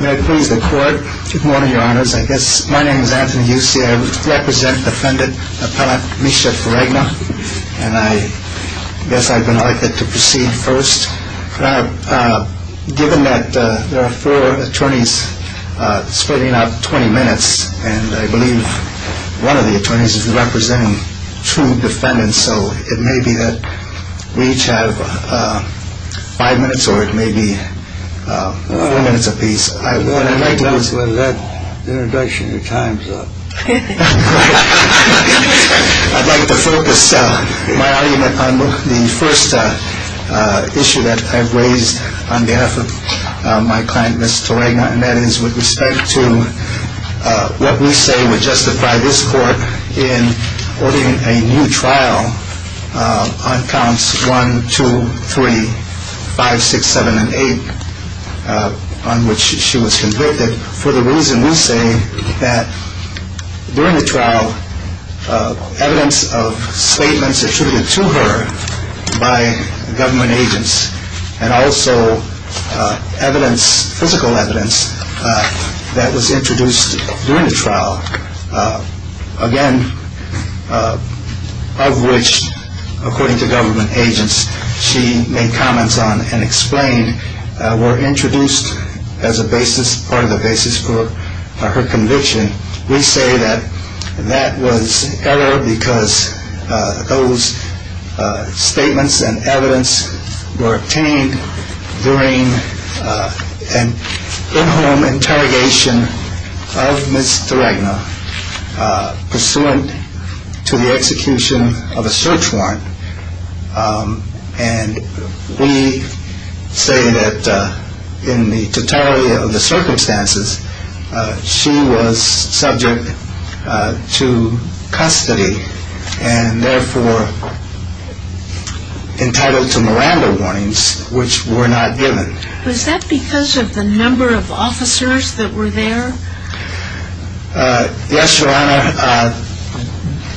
May I please record? Good morning, your honors. I guess my name is Anthony Yusey. I represent defendant, appellant Micha Terragna. And I guess I would like to proceed first. Given that there are four attorneys splitting up 20 minutes, and I believe one of the attorneys is representing two defendants, and so it may be that we each have five minutes, or it may be four minutes apiece. I want to make notes with that introduction, the time's up. I'd like to focus my argument on the first issue that I've raised on behalf of my client, Ms. Terragna, and that is with respect to what we say would justify this court in ordering a new trial on counts 1, 2, 3, 5, 6, 7, and 8, on which she was convicted for the reason we say that during the trial, evidence of slaveness attributed to her by government agents, and also physical evidence that was introduced during the trial, again, of which, according to government agents, she made comments on and explained, were introduced as part of the basis for her conviction. We say that that was error because those statements and evidence were obtained during an in-home interrogation of Ms. Terragna, pursuant to the execution of a search warrant, and we say that in the totality of the circumstances, she was subject to custody, and therefore entitled to Miranda warnings, which were not given. Was that because of the number of officers that were there? Yes, Your Honor.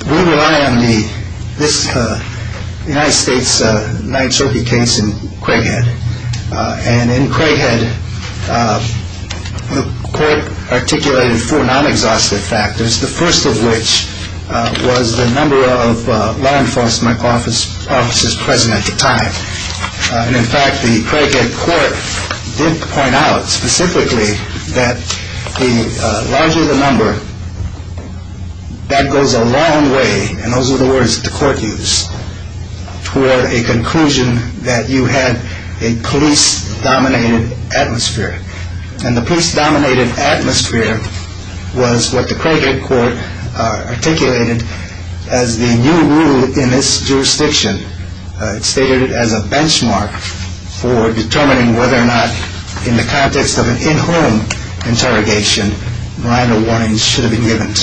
We rely on the United States Ninth Circuit case in Craighead, and in Craighead, the court articulated four non-exhaustive factors, the first of which was the number of law enforcement officers present at the time, and, in fact, the Craighead court did point out specifically that the larger the number, that goes a long way, and those are the words that the court used, to a conclusion that you had a police-dominated atmosphere, and the police-dominated atmosphere was what the Craighead court articulated as the new rule in its jurisdiction. It stated it as a benchmark for determining whether or not, in the context of an in-home interrogation, Miranda warnings should have been given.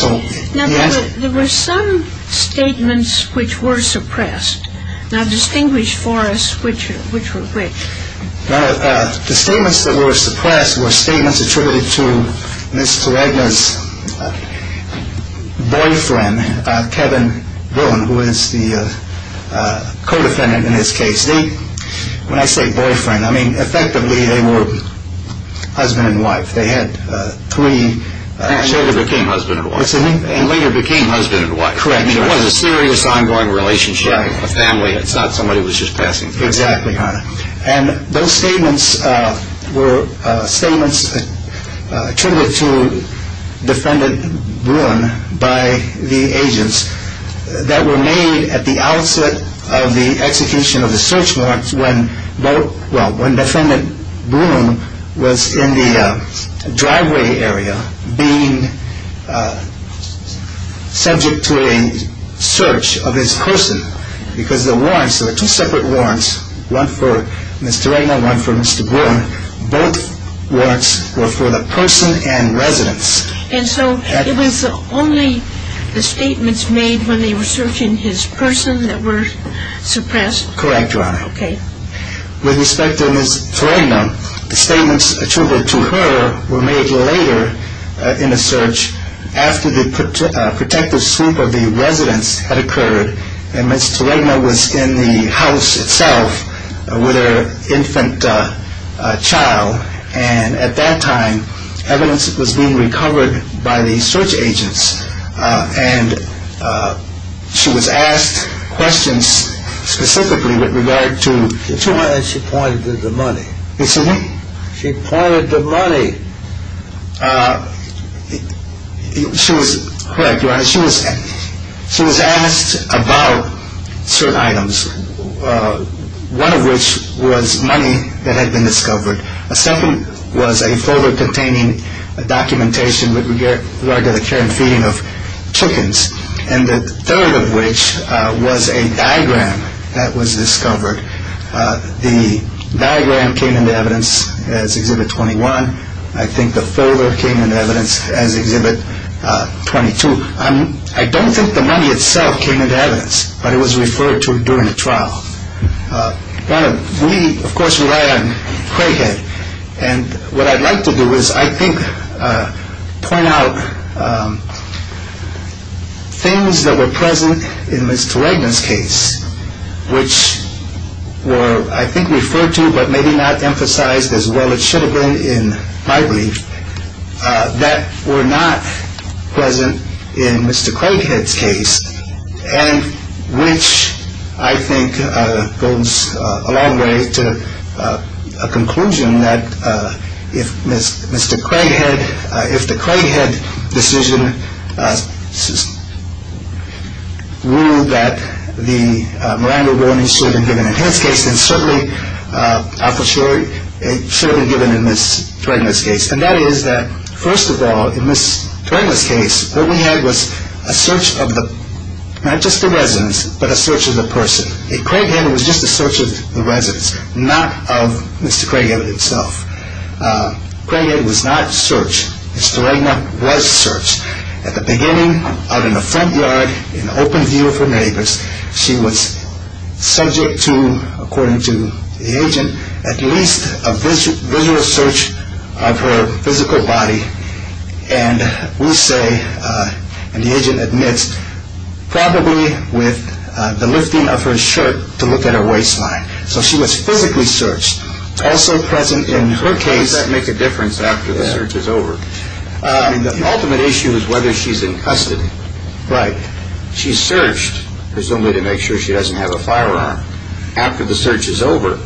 There were some statements which were suppressed, and I've distinguished for us which were which. The statements that were suppressed were statements attributed to Ms. Terragna's boyfriend, Kevin Bruin, who is the co-defendant in this case. When I say boyfriend, I mean, effectively, they were husband and wife. They had three… And later became husband and wife. And later became husband and wife. Correct. I mean, it was a serious, ongoing relationship with the family. It's not somebody who was just passing through. Exactly, Your Honor. And those statements were statements attributed to Defendant Bruin by the agents that were made at the outset of the execution of the search warrants when, well, when Defendant Bruin was in the driveway area being subject to a search of his person, because the warrants were two separate warrants, one for Ms. Terragna, one for Mr. Bruin. Both warrants were for the person and residence. And so it was only the statements made when they were searching his person that were suppressed? Correct, Your Honor. Okay. With respect to Ms. Terragna, the statements attributed to her were made later in the search after the protective sweep of the residence had occurred, and Ms. Terragna was in the house itself with her infant child. And at that time, evidence was being recovered by the search agents. And she was asked questions specifically with regard to… And she pointed at the money. Excuse me? She pointed at the money. Correct, Your Honor. She was asked about certain items, one of which was money that had been discovered. A second was a folder containing documentation with regard to the care and feeding of chickens. And the third of which was a diagram that was discovered. The diagram came into evidence as Exhibit 21. I think the folder came into evidence as Exhibit 22. I don't think the money itself came into evidence, but it was referred to during the trial. We, of course, relied on Crayhead. And what I'd like to do is I think point out things that were present in Ms. Terragna's case which were, I think, referred to but maybe not emphasized as well as should have been in my brief, that were not present in Mr. Crayhead's case, and which, I think, goes a long way to a conclusion that if the Crayhead decision ruled that the money should have been given in his case, then certainly it should have been given in Ms. Terragna's case. And that is that, first of all, in Ms. Terragna's case, what we had was a search of not just the residence, but a search of the person. Crayhead was just a search of the residence, not of Mr. Crayhead himself. Crayhead was not searched. Ms. Terragna was searched. At the beginning, out in the front yard, in open view of her neighbors, she was subject to, according to the agent, at least a visual search of her physical body. And we'll say, and the agent admits, probably with the lifting of her shirt to look at her waistline. So she was physically searched. Also present in her case. How does that make a difference after the search is over? The ultimate issue is whether she's infested. Right. She's searched, presumably to make sure she doesn't have a firearm. After the search is over,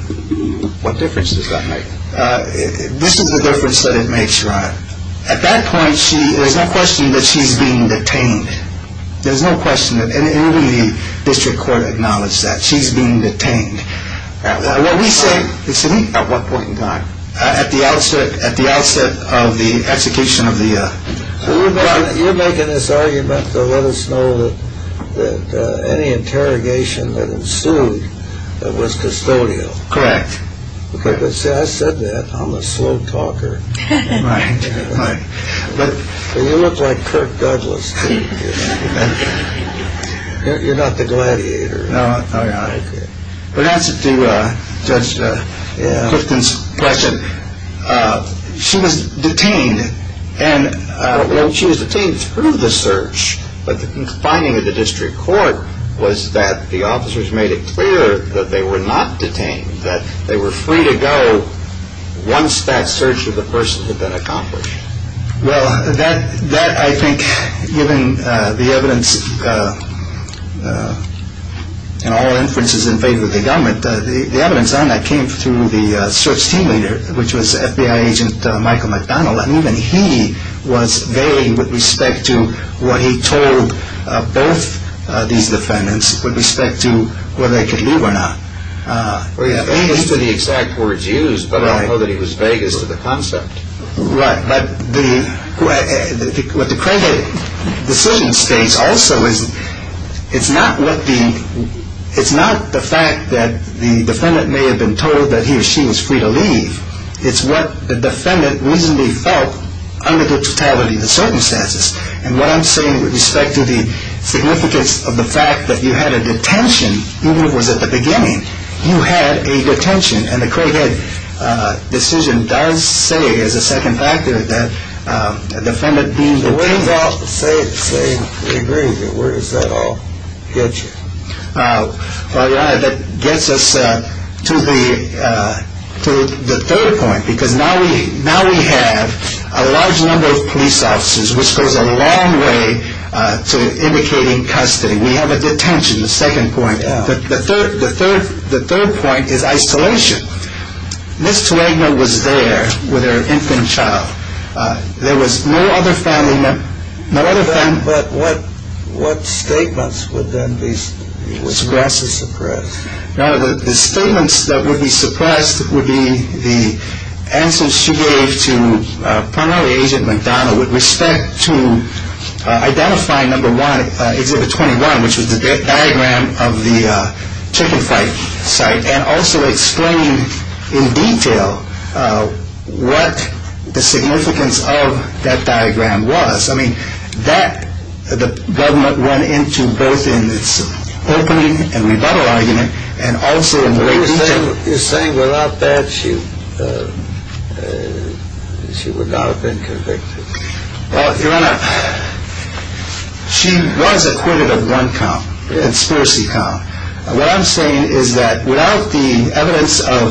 what difference does that make? This is the difference that it makes, Your Honor. At that point, there's no question that she's being detained. There's no question. And even the district court acknowledged that. She's being detained. What we say is to meet at what point in time? At the outset of the execution of the... So you're making this argument to let us know that any interrogation that ensued was custodial. Correct. See, I said that. I'm a slow talker. Right. You look like Kirk Douglas to me. You're not the gladiator. No, Your Honor. But as to Judge Clifton's question, she was detained. And she was detained through the search. But the finding of the district court was that the officers made it clear that they were not detained, that they were free to go once that search of the person had been accomplished. Well, that, I think, given the evidence and all inferences in favor of the government, the evidence on that came through the search team leader, which was FBI agent Michael McDonald. And he was vague with respect to what he told both these defendants with respect to whether they could leave or not. He said the exact words used, but I know that he was vague as to the concept. Right. What the Crayhead decision states also is it's not the fact that the defendant may have been told that he or she was free to leave. It's what the defendant reasonably felt under the totality of the circumstances. And what I'm saying with respect to the significance of the fact that you had a detention, even if it was at the beginning, you had a detention. And the Crayhead decision does say, as a second factor, that the defendant deemed free to leave. Well, it does say it's saying free to leave. Where does that all get you? Well, that gets us to the third point, because now we have a large number of police officers, which goes a long way to indicating custody. We have a detention, the second point. The third point is isolation. Ms. Twain was there with her infant child. There was no other family member. No other family member. But what statements would then be suppressed or suppressed? Now, the statements that would be suppressed would be the absence she gave to a primary agent, with respect to identifying number one, exhibit 21, which was the diagram of the chicken fight site, and also explaining in detail what the significance of that diagram was. I mean, that the government went into both in its opening and rebuttal argument and also in the way it was said. So you're saying without that, she would not have been convicted? Well, Your Honor, she was acquitted of one count, conspiracy count. What I'm saying is that without the evidence of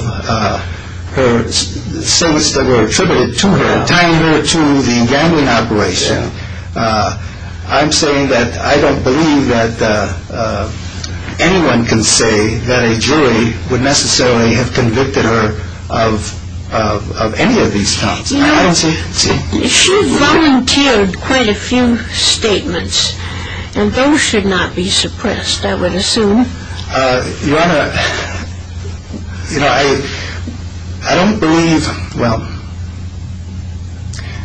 her statements that were attributed to her, tying her to the gangland operation, I'm saying that I don't believe that anyone can say that a jury would necessarily have convicted her of any of these counts. If she had volunteered quite a few statements, then those should not be suppressed, I would assume. Your Honor, I don't believe, well,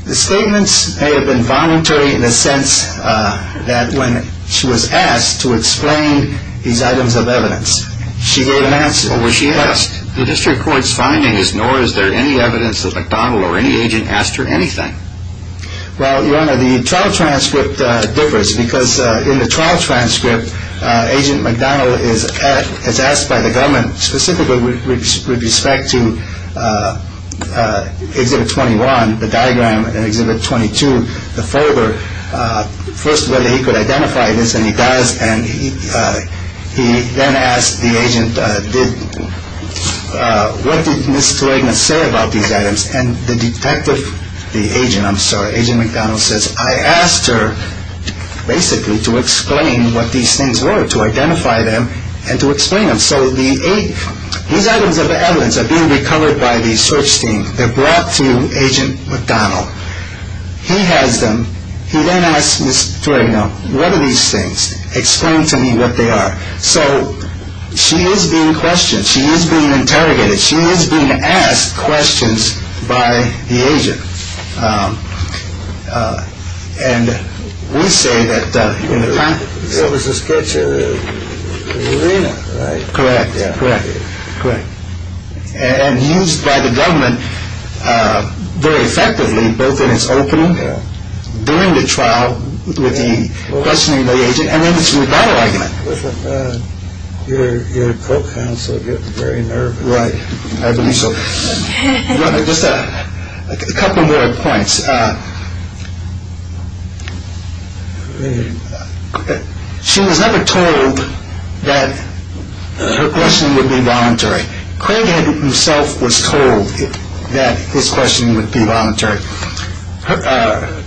the statements may have been voluntary in the sense that when she was asked to explain these items of evidence, she gave an answer. Well, when she asked, the district court's finding is nor is there any evidence that McDonald or any agent asked her anything. Now, Your Honor, the trial transcript differs because in the trial transcript, Agent McDonald is asked by the government specifically with respect to Exhibit 21, the diagram, and Exhibit 22, the favor, first whether he could identify this and he does, and he then asks the agent, what did Ms. Thurignan say about these items? And the detective, the agent, I'm sorry, Agent McDonald says, I asked her basically to explain what these things were, to identify them and to explain them. So these items of evidence are being recovered by the search team. They're brought to Agent McDonald. He has them. He then asks Ms. Thurignan, what are these things? Explain to me what they are. So she is being questioned. She is being interrogated. She is being asked questions by the agent. And we say that in the context... It was a sketch of the arena, right? Correct. Correct. Correct. And used by the government very effectively, both in its opening, during the trial, with a questioning by the agent, and then it was used by the government. Your coat pants are getting very nervy. Right. Just a couple more points. She was never told that her questioning would be voluntary. Craighead himself was told that his questioning would be voluntary.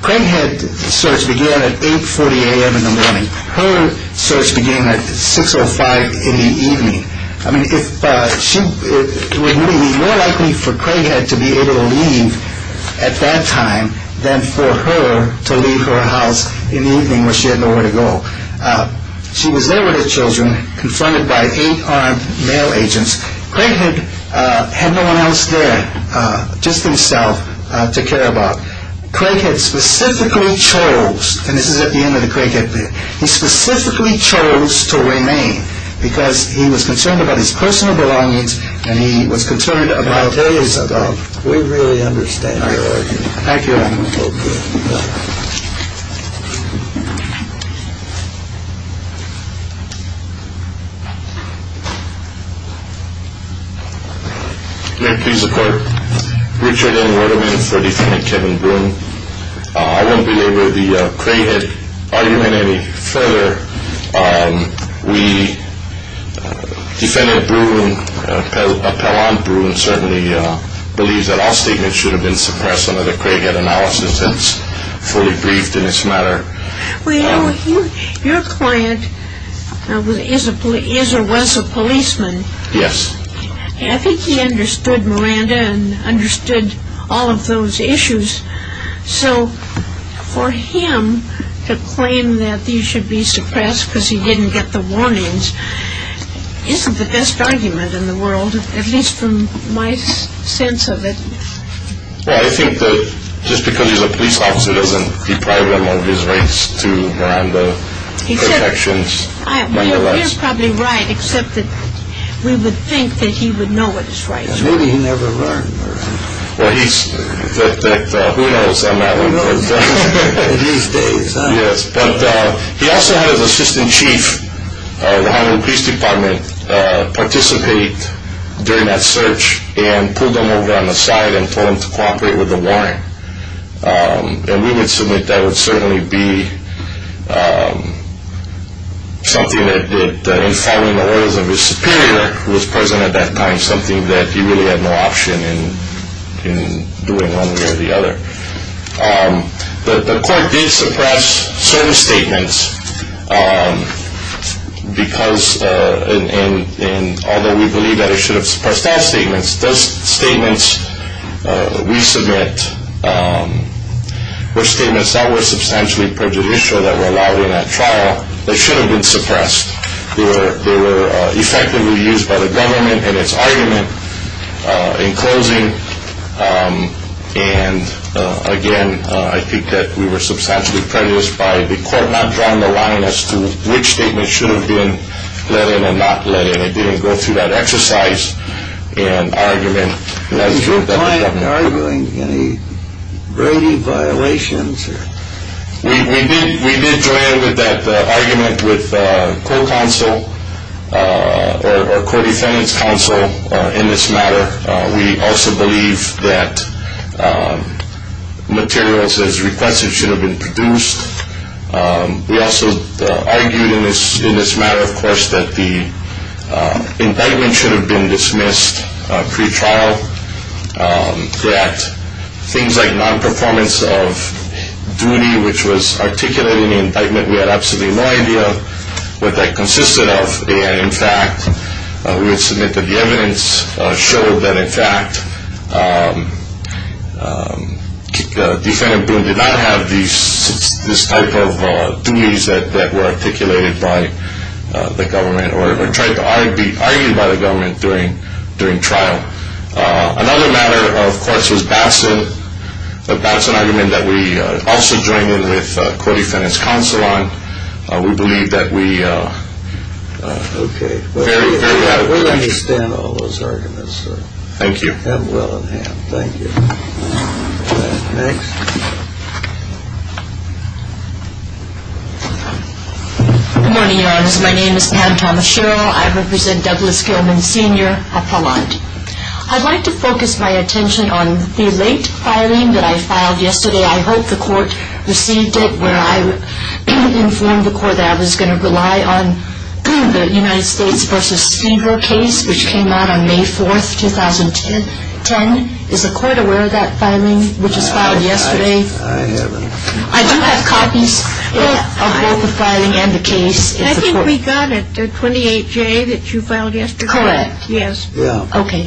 Craighead's search began at 8.40 a.m. in the morning. Her search began at 6.05 in the evening. I mean, it was more likely for Craighead to be able to leave at that time than for her to leave her house in the evening when she had nowhere to go. She was there with her children, confronted by eight armed male agents. Craighead penalized them, just himself, to care about. Craighead specifically chose, and this is at the end of the Craighead bit, he specifically chose to remain because he was concerned about his personal belongings and he was concerned about his... We really understand your argument. Thank you. May I please report? Richard N. Wetterbeam for defendant Kevin Broome. I won't be able to be with Craighead's argument any further. Defendant Broome, Appellant Broome, believes that all statements should have been suppressed under the Craighead analysis that's fully briefed in this matter. Well, your client is or was a policeman. Yes. I think he understood Miranda and understood all of those issues. So for him to claim that these should be suppressed because he didn't get the warnings isn't the best argument in the world, at least from my sense of it. Well, I think that just because he's a police officer doesn't deprive him of his rights to Miranda protections. He was probably right, except that we would think that he would know it was right. It's good he never learned. Well, he's, who knows? I'm not going to blame him. He was dazed, huh? Yes. But he also had his Assistant Chief of the Homeland Peace Department participate during that search and pull them over on the side and for him to cooperate with the warrant. And we would submit that it would certainly be something that, in following the orders of his superior who was present at that time, something that he really had no option in doing one way or the other. The court did suppress certain statements because, and although we believe that it should have suppressed all statements, those statements we submit were statements that were substantially prejudicial that were allowed in a trial that should have been suppressed. They were effectively used by the government in its argument in closing. And, again, I think that we were substantially prejudiced by the court not drawing a line as to which statement should have been let in or not let in. It didn't go through that exercise and argument. Was your client arguing any braving violations? We did join in with that argument with court counsel or court attendance counsel in this matter. We also believe that materials as requested should have been produced. We also argued in this matter, of course, that the indictment should have been dismissed pre-trial, that things like nonperformance of duty, which was articulated in the indictment, we had absolutely no idea what that consisted of. In fact, we will submit that the evidence showed that, in fact, the defendant did not have these type of duties that were articulated by the government or were tried to argue by the government during trial. Another matter, of course, was Batson. The Batson argument that we also joined in with court attendance counsel on. We believe that we... Okay. Very well. We're going to extend all those arguments. Thank you. Thank you. Next. Good morning, Your Honor. My name is Pam Tomaschero. I represent Douglas Gilman Sr. Appellant. I'd like to focus my attention on the late filing that I filed yesterday. I hope the court received it when I informed the court that I was going to rely on the United States v. Seeger case, which came out on May 4th, 2010. Is the court aware of that filing, which was filed yesterday? I haven't seen it. I do have copies of both the filing and the case. I think we got it, the 28-J that you filed yesterday. Correct. Yes. Okay.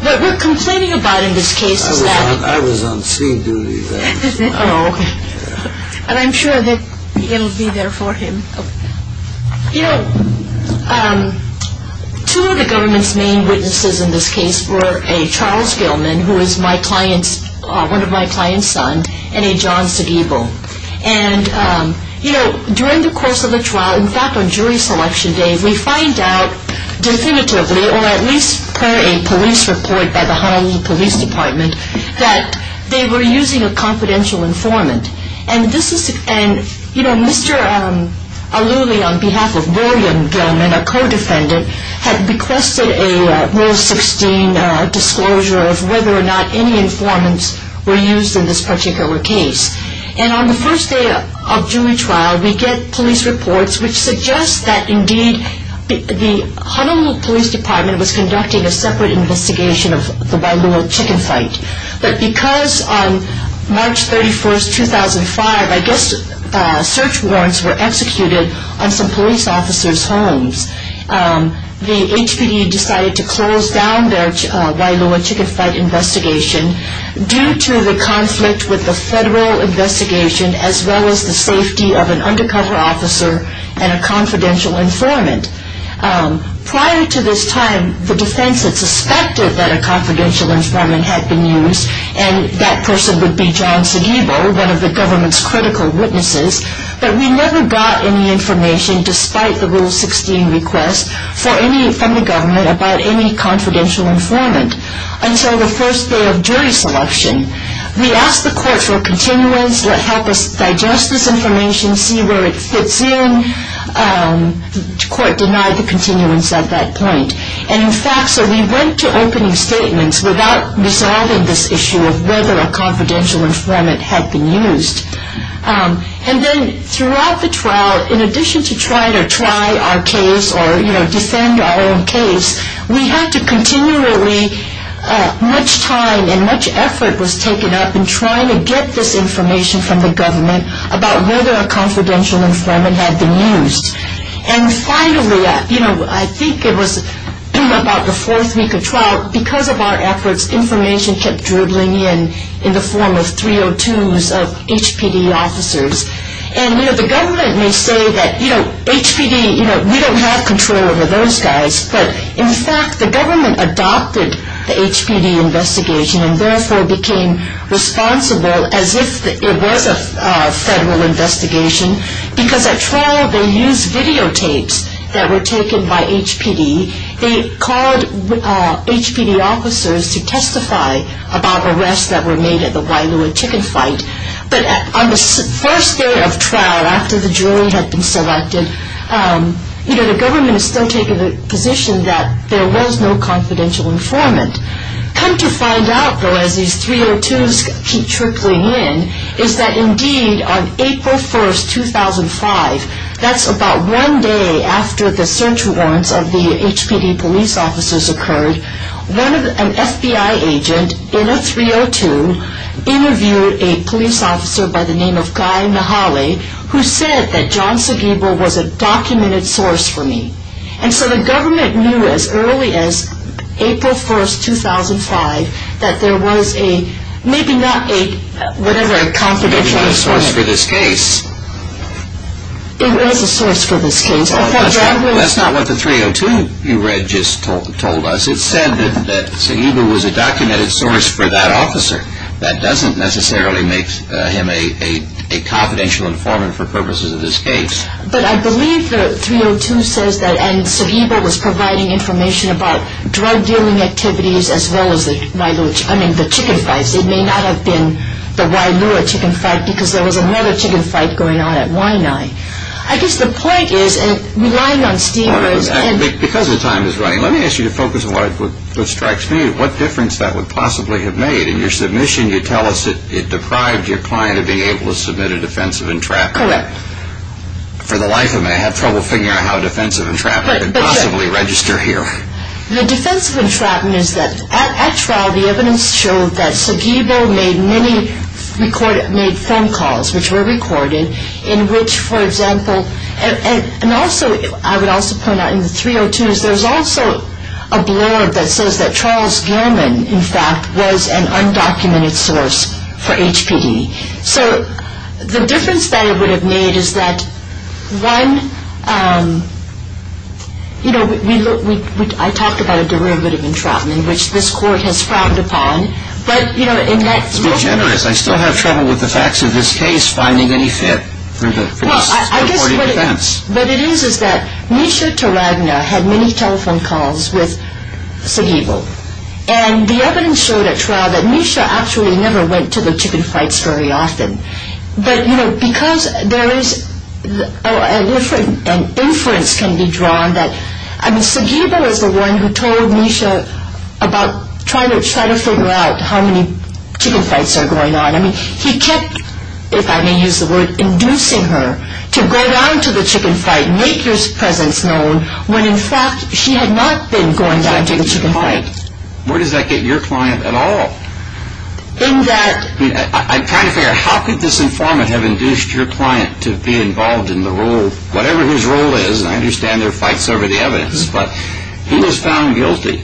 What we're complaining about in this case is that... I was on scene duty then. Oh. And I'm sure that it'll be there for him. You know, two of the government's main witnesses in this case were a Charles Gilman, who is my client, one of my clients' sons, and a John Sedivo. And, you know, during the course of the trial, in fact, on jury selection day, we find out definitively, or at least per a police report by the Honolulu Police Department, that they were using a confidential informant. And, you know, Mr. Aluli, on behalf of William Gilman, our co-defendant, had requested a Rule 16 disclosure of whether or not any informants were used in this particular case. And on the first day of jury trial, we get police reports which suggest that, indeed, the Honolulu Police Department was conducting a separate investigation of the Wailua chicken fight. But because on March 31, 2005, I guess, search warrants were executed on some police officers' homes, the HPD decided to close down their Wailua chicken fight investigation due to the conflict with the federal investigation, as well as the safety of an undercover officer and a confidential informant. Prior to this time, the defense had suspected that a confidential informant had been used, and that person would be John Sedivo, one of the government's critical witnesses. But we never got any information, despite the Rule 16 request, from the government about any confidential informant. Until the first day of jury selection, we asked the court for continuance, let help us digest this information, see where it fits in. The court denied the continuance at that point. And, in fact, so we went to opening statements without resolving this issue of whether a confidential informant had been used. And then throughout the trial, in addition to trying to try our case or, you know, defend our own case, we had to continually, much time and much effort was taken up in trying to get this information from the government about whether a confidential informant had been used. And finally, you know, I think it was about the fourth week of trial, because of our efforts, information kept dribbling in in the form of 302s of HPD officers. And, you know, the government may say that, you know, HPD, you know, we don't have control over those guys. But, in fact, the government adopted the HPD investigation and therefore became responsible as if it were a federal investigation, because at trial they used videotapes that were taken by HPD. They called HPD officers to testify about arrests that were made at the Wailua chicken fight. But on the first day of trial, after the jury had been selected, you know, the government has taken the position that there was no confidential informant. Come to find out, though, as these 302s keep trickling in, is that, indeed, on April 1, 2005, that's about one day after the search warrants of the HPD police officers occurred, an FBI agent, in a 302, interviewed a police officer by the name of Guy Mihaly, who said that John Sobibor was a documented source for me. And so the government knew as early as April 1, 2005, that there was a, maybe not a, whatever confidential source. Maybe not a source for this case. It was a source for this case. That's not what the 302 you read just told us. It said that Sobibor was a documented source for that officer. That doesn't necessarily make him a confidential informant for purposes of this case. But I believe the 302 says that Sobibor was providing information about drug dealing activities, as well as the chicken fights. It may not have been the Wailua chicken fight, because there was another chicken fight going on at Waianae. I guess the point is, and relying on Steve... Because the time is running, let me ask you to focus on what strikes me, what difference that would possibly have made in your submission. You tell us that it deprived your client of being able to submit a defense of entrapment. Correct. For the life of me, I have trouble figuring out how a defense of entrapment could possibly register here. The defense of entrapment is that, after all, the evidence showed that Sobibor made many phone calls, which were recorded, in which, for example, and also I would also point out in the 302s, there's also a blurb that says that Charles Gilman, in fact, was an undocumented source for HPD. So the difference that it would have made is that one, you know, I talked about a derivative of entrapment, which this court has frowned upon. To be generous, I still have trouble with the facts of this case finding any fit for the recording defense. What it is is that Misha Taragna had many telephone calls with Sobibor, and the evidence showed at trial that Misha actually never went to the chicken fights very often. But, you know, because there is a difference, an inference can be drawn that, I mean, Sobibor is the one who told Misha about trying to figure out how many chicken fights are going on. I mean, he kept, if I may use the word, inducing her to go down to the chicken fight, make his presence known, when, in fact, she had not been going down to the chicken fight. Where does that get your client at all? In that... I'm trying to figure out how could this informant have induced your client to be involved in the role, and I understand there are fights over the evidence, but he was found guilty.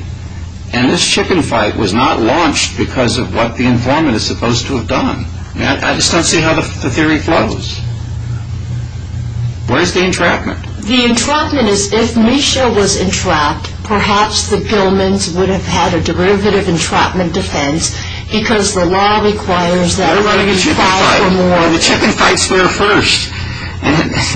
And this chicken fight was not launched because of what the informant is supposed to have done. I just don't see how the theory flows. Where's the entrapment? The entrapment is, if Misha was entrapped, perhaps the billmen would have had a derivative entrapment defense, because the law requires that... The chicken fight's there first.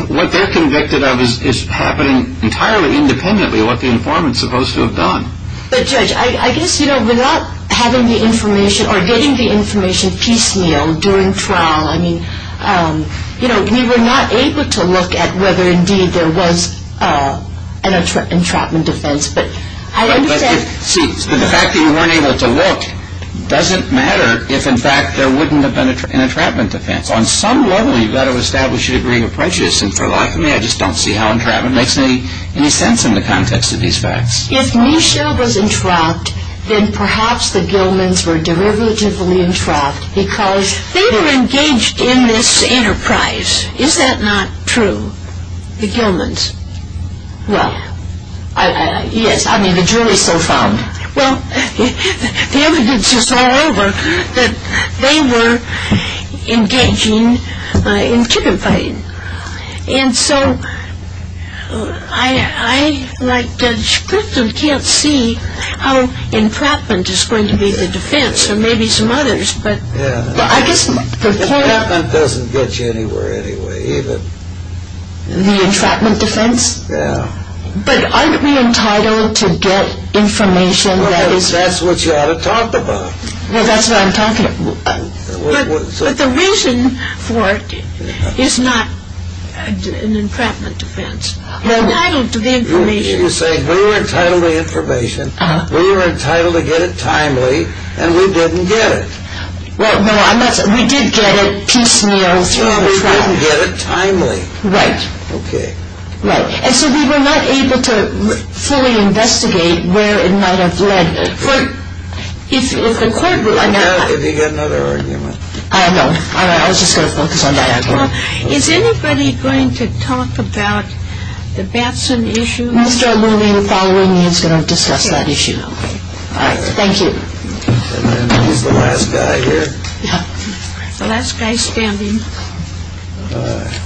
What they're convicted of is happening entirely independently of what the informant's supposed to have done. But, Judge, I guess, you know, without having the information or getting the information piecemeal during trial, I mean, you know, we were not able to look at whether, indeed, there was an entrapment defense, but I understand... See, the fact that you were unable to look doesn't matter if, in fact, there wouldn't have been an entrapment defense. On some level, you've got to establish your degree of prejudice. And, for lack of me, I just don't see how entrapment makes any sense in the context of these facts. If Misha was entrapped, then perhaps the Gilmans were derivatively entrapped because they were engaged in this enterprise. Is that not true? The Gilmans. Well, I mean, the jury so found. Well, the evidence is all over that they were engaging in chicken fighting. And so, I, like Judge Kristol, can't see how entrapment is going to be the defense, and maybe some others, but I guess... Entrapment doesn't get you anywhere anyway, either. The entrapment defense? Yeah. But aren't we entitled to get information that is... Well, that's what you ought to talk about. Well, that's what I'm talking about. But the reason for it is not an entrapment defense. No. We're entitled to the information. You're saying we're entitled to the information, we were entitled to get it timely, and we didn't get it. Well, no, I'm not saying... We did get it piecemeal. No, we didn't get it timely. Right. Okay. Right. And so we were not able to fully investigate where it might have led. But... It's important... I'm asking you another argument. I know. I was just going to focus on that as well. Well, is anybody going to talk about the Batson issue? Mr. Lillian Bolling is going to discuss that issue. Okay. All right. Thank you. And then there's the last guy here. The last guy standing. All right.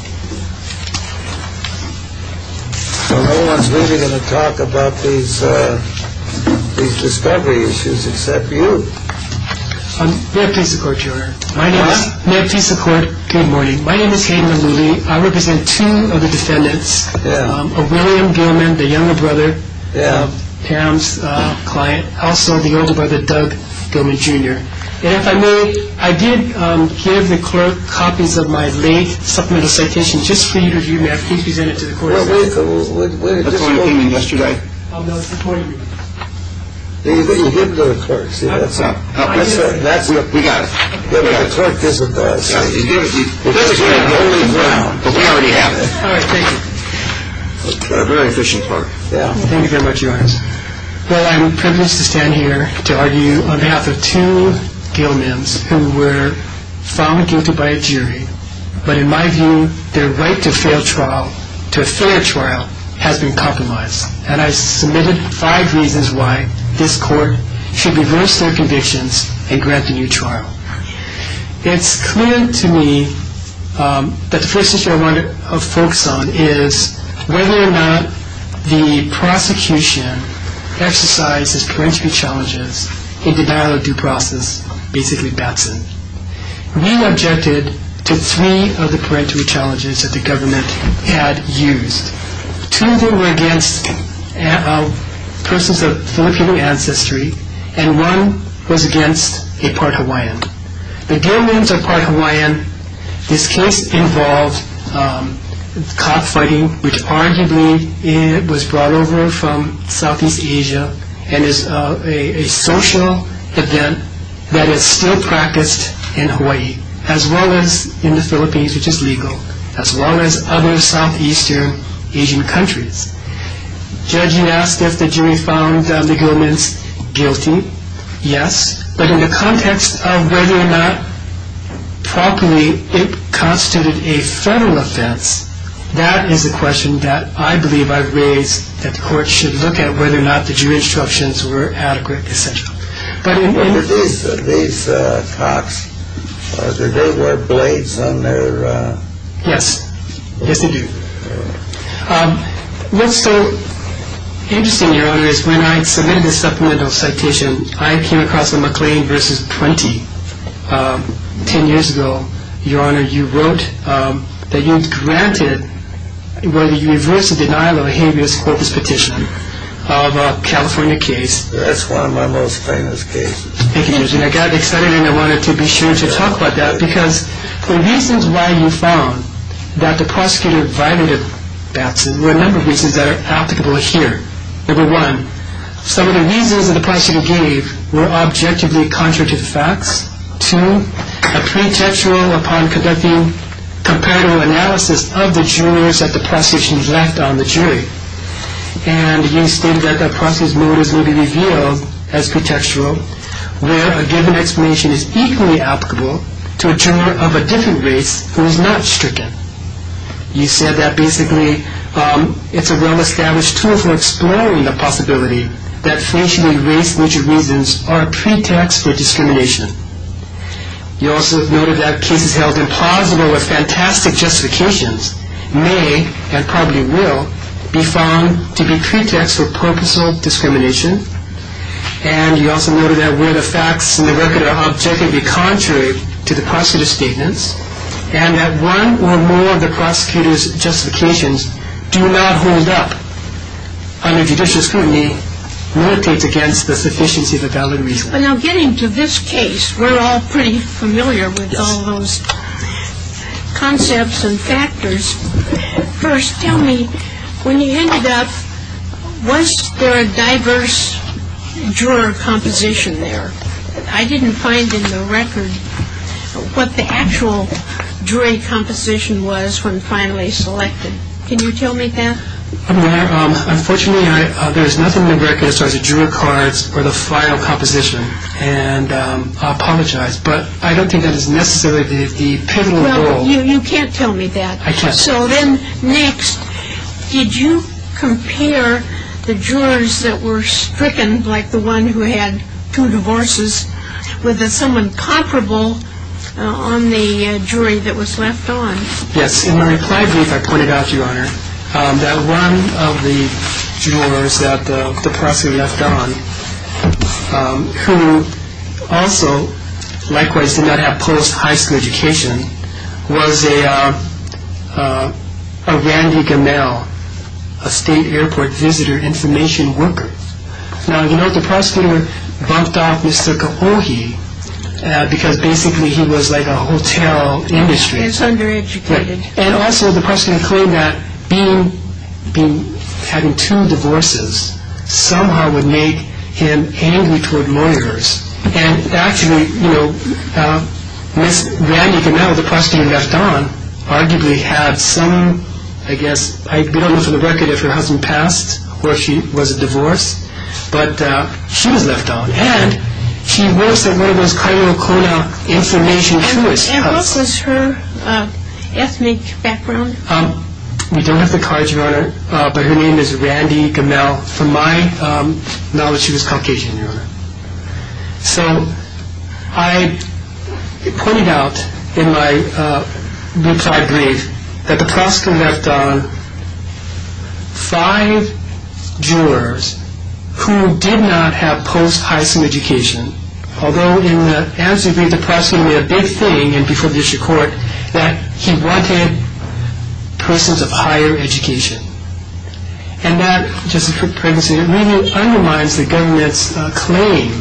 So no one's really going to talk about these discoveries except you. May I speak to the court, Your Honor? May I speak to the court? Good morning. My name is Hayden Lillian. I represent two of the defendants, William Gilman, the younger brother of Pam's client, also the older brother, Doug Gilman, Jr. And if I may, I did give the clerk copies of my late supplemental citations. Just for you to review, may I speak to the court? What's going on yesterday? Oh, no. It's the court. Well, you give those clerks. That's what we got. The clerk doesn't... We already have it. All right. Thank you. A very efficient clerk. Yeah. Thank you very much, Your Honor. Well, I'm privileged to stand here to argue on behalf of two Gilmans who were found guilty by a jury. But in my view, their right to a fair trial has been compromised. And I've submitted five reasons why this court should reverse their conditions and grant a new trial. It's clear to me that the questions I want to focus on is whether or not the prosecution exercised its parenteral challenges in the battle of due process, basically Batson. We objected to three of the parenteral challenges that the government had used. Two of them were against persons of Filipino ancestry, and one was against a part Hawaiian. The Gilmans are part Hawaiian. This case involved cop fighting, which arguably was brought over from Southeast Asia, and it's a social event that is still practiced in Hawaii, as well as in the Philippines, which is legal, as well as other Southeastern Asian countries. Judge, you asked if the jury found the Gilmans guilty. Yes. But in the context of whether or not properly it constituted a federal offense, that is a question that I believe I've raised that the court should look at, whether or not the jury instructions were adequate, essential. But in one of these talks, did they wear blades on their... Yes. Yes, they do. What's so interesting, Your Honor, is when I submitted this supplemental citation, I came across a McLean v. 20, 10 years ago. Your Honor, you wrote that you were granted, well, you reversed the denial of a habeas corpus petition of a California case. That's one of my most famous cases. Thank you, Eugene. I got excited and I wanted to be sure to talk about that because the reasons why you found that the prosecutor violated the statute were a number of reasons that are applicable here. Number one, some of the reasons that the prosecutor gave were objectively contradictory facts. Two, a pretension upon conducting comparative analysis of the jurors that the prosecution left on the jury. And you stated that the prosecution's motives will be revealed as pretextual, where a given explanation is equally applicable to a juror of a different race who is not stricken. You said that basically it's a well-established tool for exploring the possibility that sexually-race-mutual reasons are a pretext for discrimination. You also noted that cases held in Prague, where there were fantastic justifications, may, and probably will, be found to be pretext for purposeful discrimination. And you also noted that where the facts in the record are objectively contrary to the prosecutor's statements and that one or more of the prosecutor's justifications do not hold up under judicial scrutiny, militates against the sufficiency of a valid reason. Now, getting to this case, we're all pretty familiar with all those concepts and factors. First, tell me, when you ended up, was there a diverse juror composition there? I didn't find in the record what the actual jury composition was when finally selected. Can you tell me, Pat? Unfortunately, there's nothing in the record as far as the juror cards or the final composition, and I apologize, but I don't think that is necessarily the pivotal role. You can't tell me that. I can't. So then, next, did you compare the jurors that were stricken, like the one who had two divorces, with someone comparable on the jury that was left on? One of the jurors that the prosecutor left on, who also, likewise, did not have post-high school education, was a Randy Ganell, a state airport visitor information worker. Now, you know, the prosecutor bumped off Mr. Kohoge because basically he was like a hotel industry. He was under-educated. And also, the prosecutor claimed that having two divorces somehow would make him angry toward lawyers. And actually, you know, Ms. Randy Ganell, the prosecutor left on, arguably had some, I guess, I believe it was in the record that her husband passed, where she was a divorce, but she was left on. And she works at one of those criminal, criminal information juries. And what was her ethnic background? We don't have the cards, Your Honor, but her name is Randy Ganell. From my knowledge, she was Caucasian, Your Honor. So, I pointed out in my retired brief that the prosecutor left on five jurors who did not have post-high school education. Although, in the answer brief, the prosecutor made a big thing in before the issue of court that he wanted persons of higher education. And that, Justice Rick Perkins, it really underlines the government's claim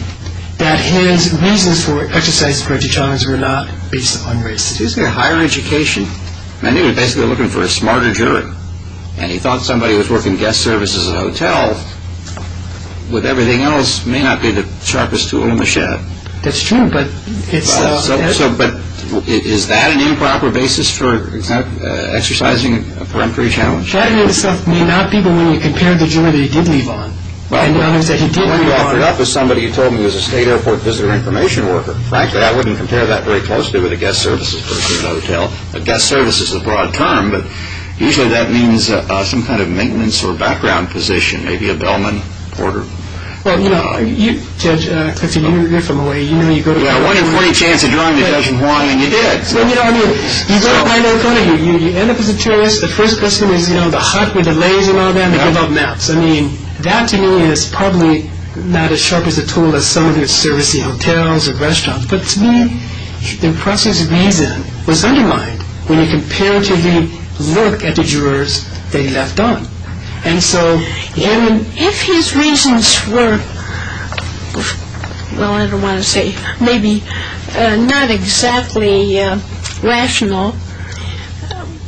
that his reasons for exercising the right to challenge were not based upon race. Isn't there higher education? I mean, he was basically looking for a smarter juror. And he thought somebody who was working guest services at a hotel, with everything else, may not be the sharpest tool in the shed. That's true, but it's... But is that an improper basis for exercising a peremptory challenge? That may not be the way you compare him to a juror that he did leave on. Well, he ended up with somebody who told him he was a state airport visitor information worker. In fact, I wouldn't compare that very closely with a guest services person at a hotel. A guest service is a broad term, but usually that means some kind of maintenance or background position. Maybe a bellman, porter. Well, you know, Judge Perkins, you're from Hawaii. You know you go to Hawaii. I had a great chance of joining the judge in Hawaii, and you did. Well, you know, I mean, you don't find that funny. You end up with a choice. The first person you meet, you don't have a hut with a lake and all that. You don't have maps. I mean, that to me is probably not as sharp as a tool that somebody would service in hotels or restaurants. But to me, the process of reason was undermined when you comparatively look at the jurors that he left on. And so, I mean, if his reasons were, well, I don't want to say, maybe not exactly rational,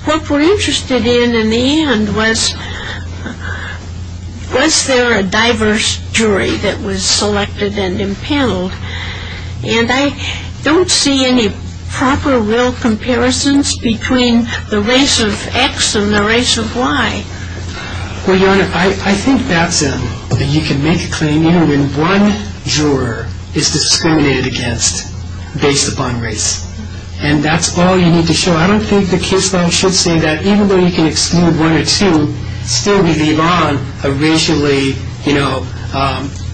what we're interested in, in the end, was was there a diverse jury that was selected and impaneled? And I don't see any proper real comparisons between the race of X and the race of Y. Well, Your Honor, I think that's a, that you can make a claim even when one juror is discriminated against based upon race. And that's all you need to show. I don't think the case law should say that even though you can exclude one or two, still we leave on a racially, you know,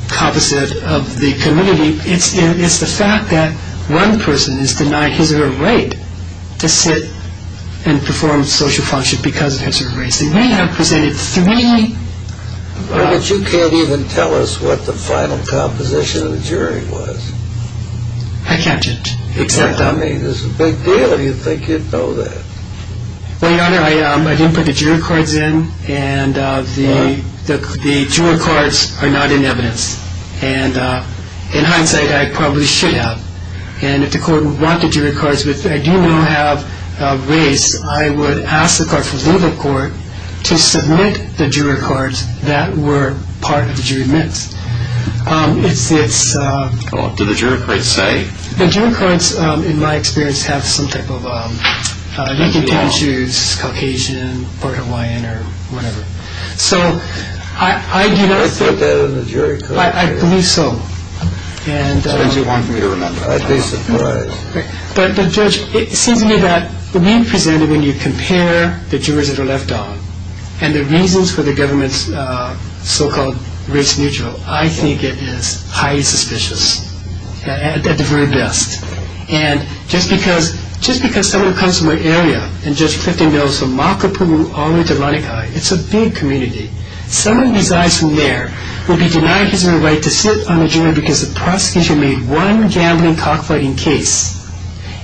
composite of the community. It's the fact that one person is denied his or her right to sit and perform social function because of his or her race. And we have presented this community. But you can't even tell us what the final composition of the jury was. I can't judge. You can't. I mean, it's a big deal. Do you think you'd know that? Well, Your Honor, I didn't put the juror cards in, and the juror cards are not in evidence. And in hindsight, I probably should have. And if the court would want the juror cards, which I do now have raised, I would ask the court, the legal court, to submit the juror cards that were part of the jury minutes. Well, what do the juror cards say? The juror cards, in my experience, have some type of Lincoln-type issues, Caucasian or Hawaiian or whatever. So I believe so. That's what you want me to remember. But, Judge, it seems to me that when you compare the jurors that are left out and the reasons for the government's so-called race neutral, I think it is highly suspicious, at the very best. And just because someone comes to my area and Judge Clifton knows from Makapu'u all the way to Laikai, it's a big community. Some of you guys from there would be denouncing the right to sit on a jury because the prosecution made one gambling, cockfighting case,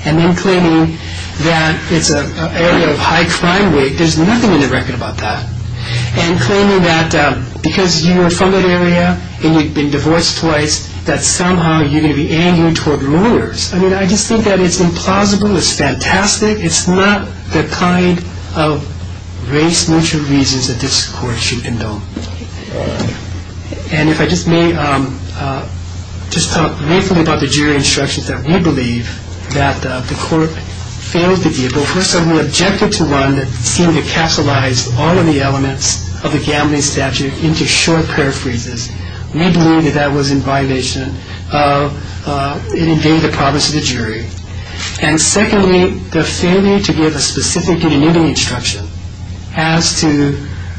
and then claiming that it's an area of high crime rate. There's nothing in the record about that. And claiming that because you were from that area and you've been divorced twice, that somehow you're going to be angry toward the rulers. I mean, I just think that is implausible. It's fantastic. It's not the kind of race-neutral reasons that this court should condone. And if I just may just talk briefly about the jury instructions that we believe that the court failed to do. First of all, we objected to one that seemed to capitalize all of the elements of the gambling statute into short paraphrases. We believe that that was in violation of engaging the promise of the jury. And secondly, the failure to give a specific admitting instruction as to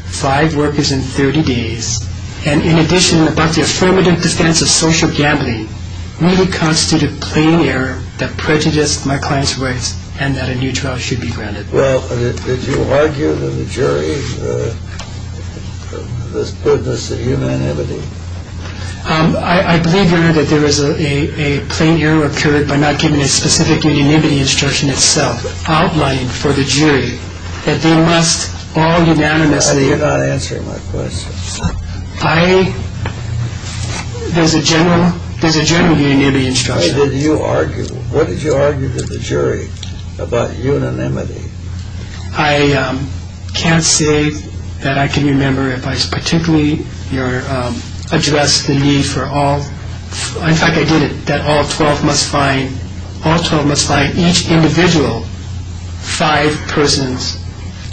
five workers in 30 days and in addition about the affirmative defense of social gambling really constituted a plain error that prejudiced my client's rights and that a new trial should be granted. Well, did you argue that the jury understood this unanimity? I believe, Your Honor, that there was a plain error occurred by not giving a specific unanimity instruction itself outlined for the jury that they must all unanimously I think you're not answering my question. I, there's a general, there's a general unanimity instruction. Why did you argue, what did you argue with the jury about unanimity? I can't say that I can remember if I particularly addressed the needs for all, in fact I did it, that all 12 must find, all 12 must find each individual five persons,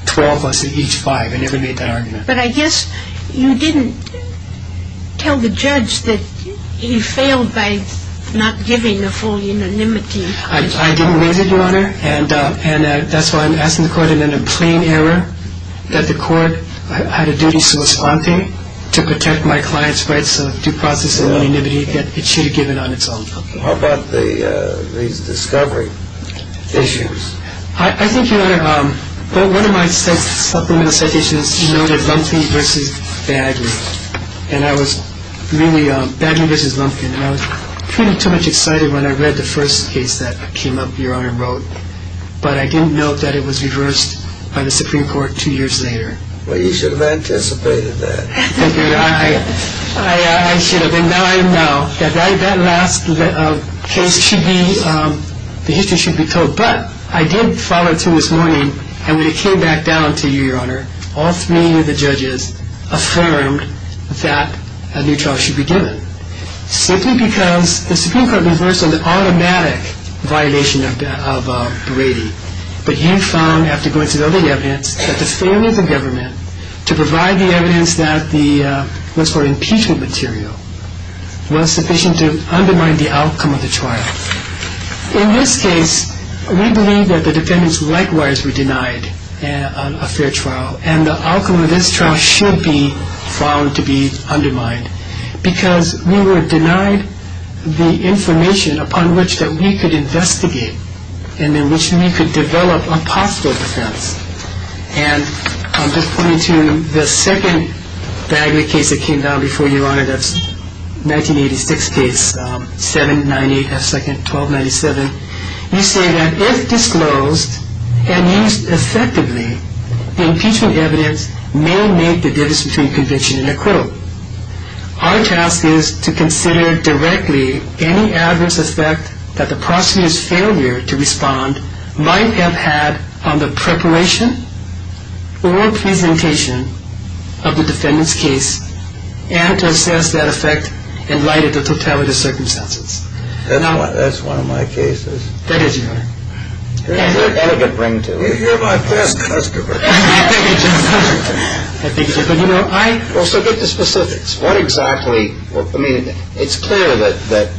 12 plus each five. I never made that argument. But I guess you didn't tell the judge that he failed by not giving a full unanimity. I didn't, Your Honor, and that's why I'm asking the court in a plain error that the court had a duty to respond to, to protect my client's rights of due process and unanimity that it should have given on its own. How about the discovery issues? I think, Your Honor, one of my supplementary citations noted Lumpkin v. Bagley and I was really, Bagley v. Lumpkin, I was pretty much excited when I read the first case that came up, Your Honor wrote, but I didn't know that it was reversed by the Supreme Court two years later. Well, you should have anticipated that. I should have, and now I'm now. That last case should be, the history should be told, but I did follow it through this morning and when it came back down to you, Your Honor, all three of the judges affirmed that a new trial should be given. Simply because the Supreme Court reversed an automatic violation of Brady, but you found after going through all the evidence that the failure of the government to provide the evidence that the, what's called, impeachment material was sufficient to undermine the outcome of the trial. In this case, we believe that the defendants likewise were denied a fair trial and the outcome of this trial should be found to be undermined because we were denied the information upon which we could investigate and in which we could develop a possible defense. And I'm just pointing to the second dagger case that came down before you, Your Honor, that's 1986 case, 798 at second, 1297. You say that if disclosed and used effectively, the impeachment evidence may make the Davis Supreme Convention an accrual. Our task is to consider directly any adverse effect that the prosecutor's failure to respond might have had on the preparation or presentation of the defendant's case and to assess that effect in light of the perpetrator's circumstances. That's one of my cases. That is your case. If you're my best customer. So get to specifics. What exactly, I mean, it's clear that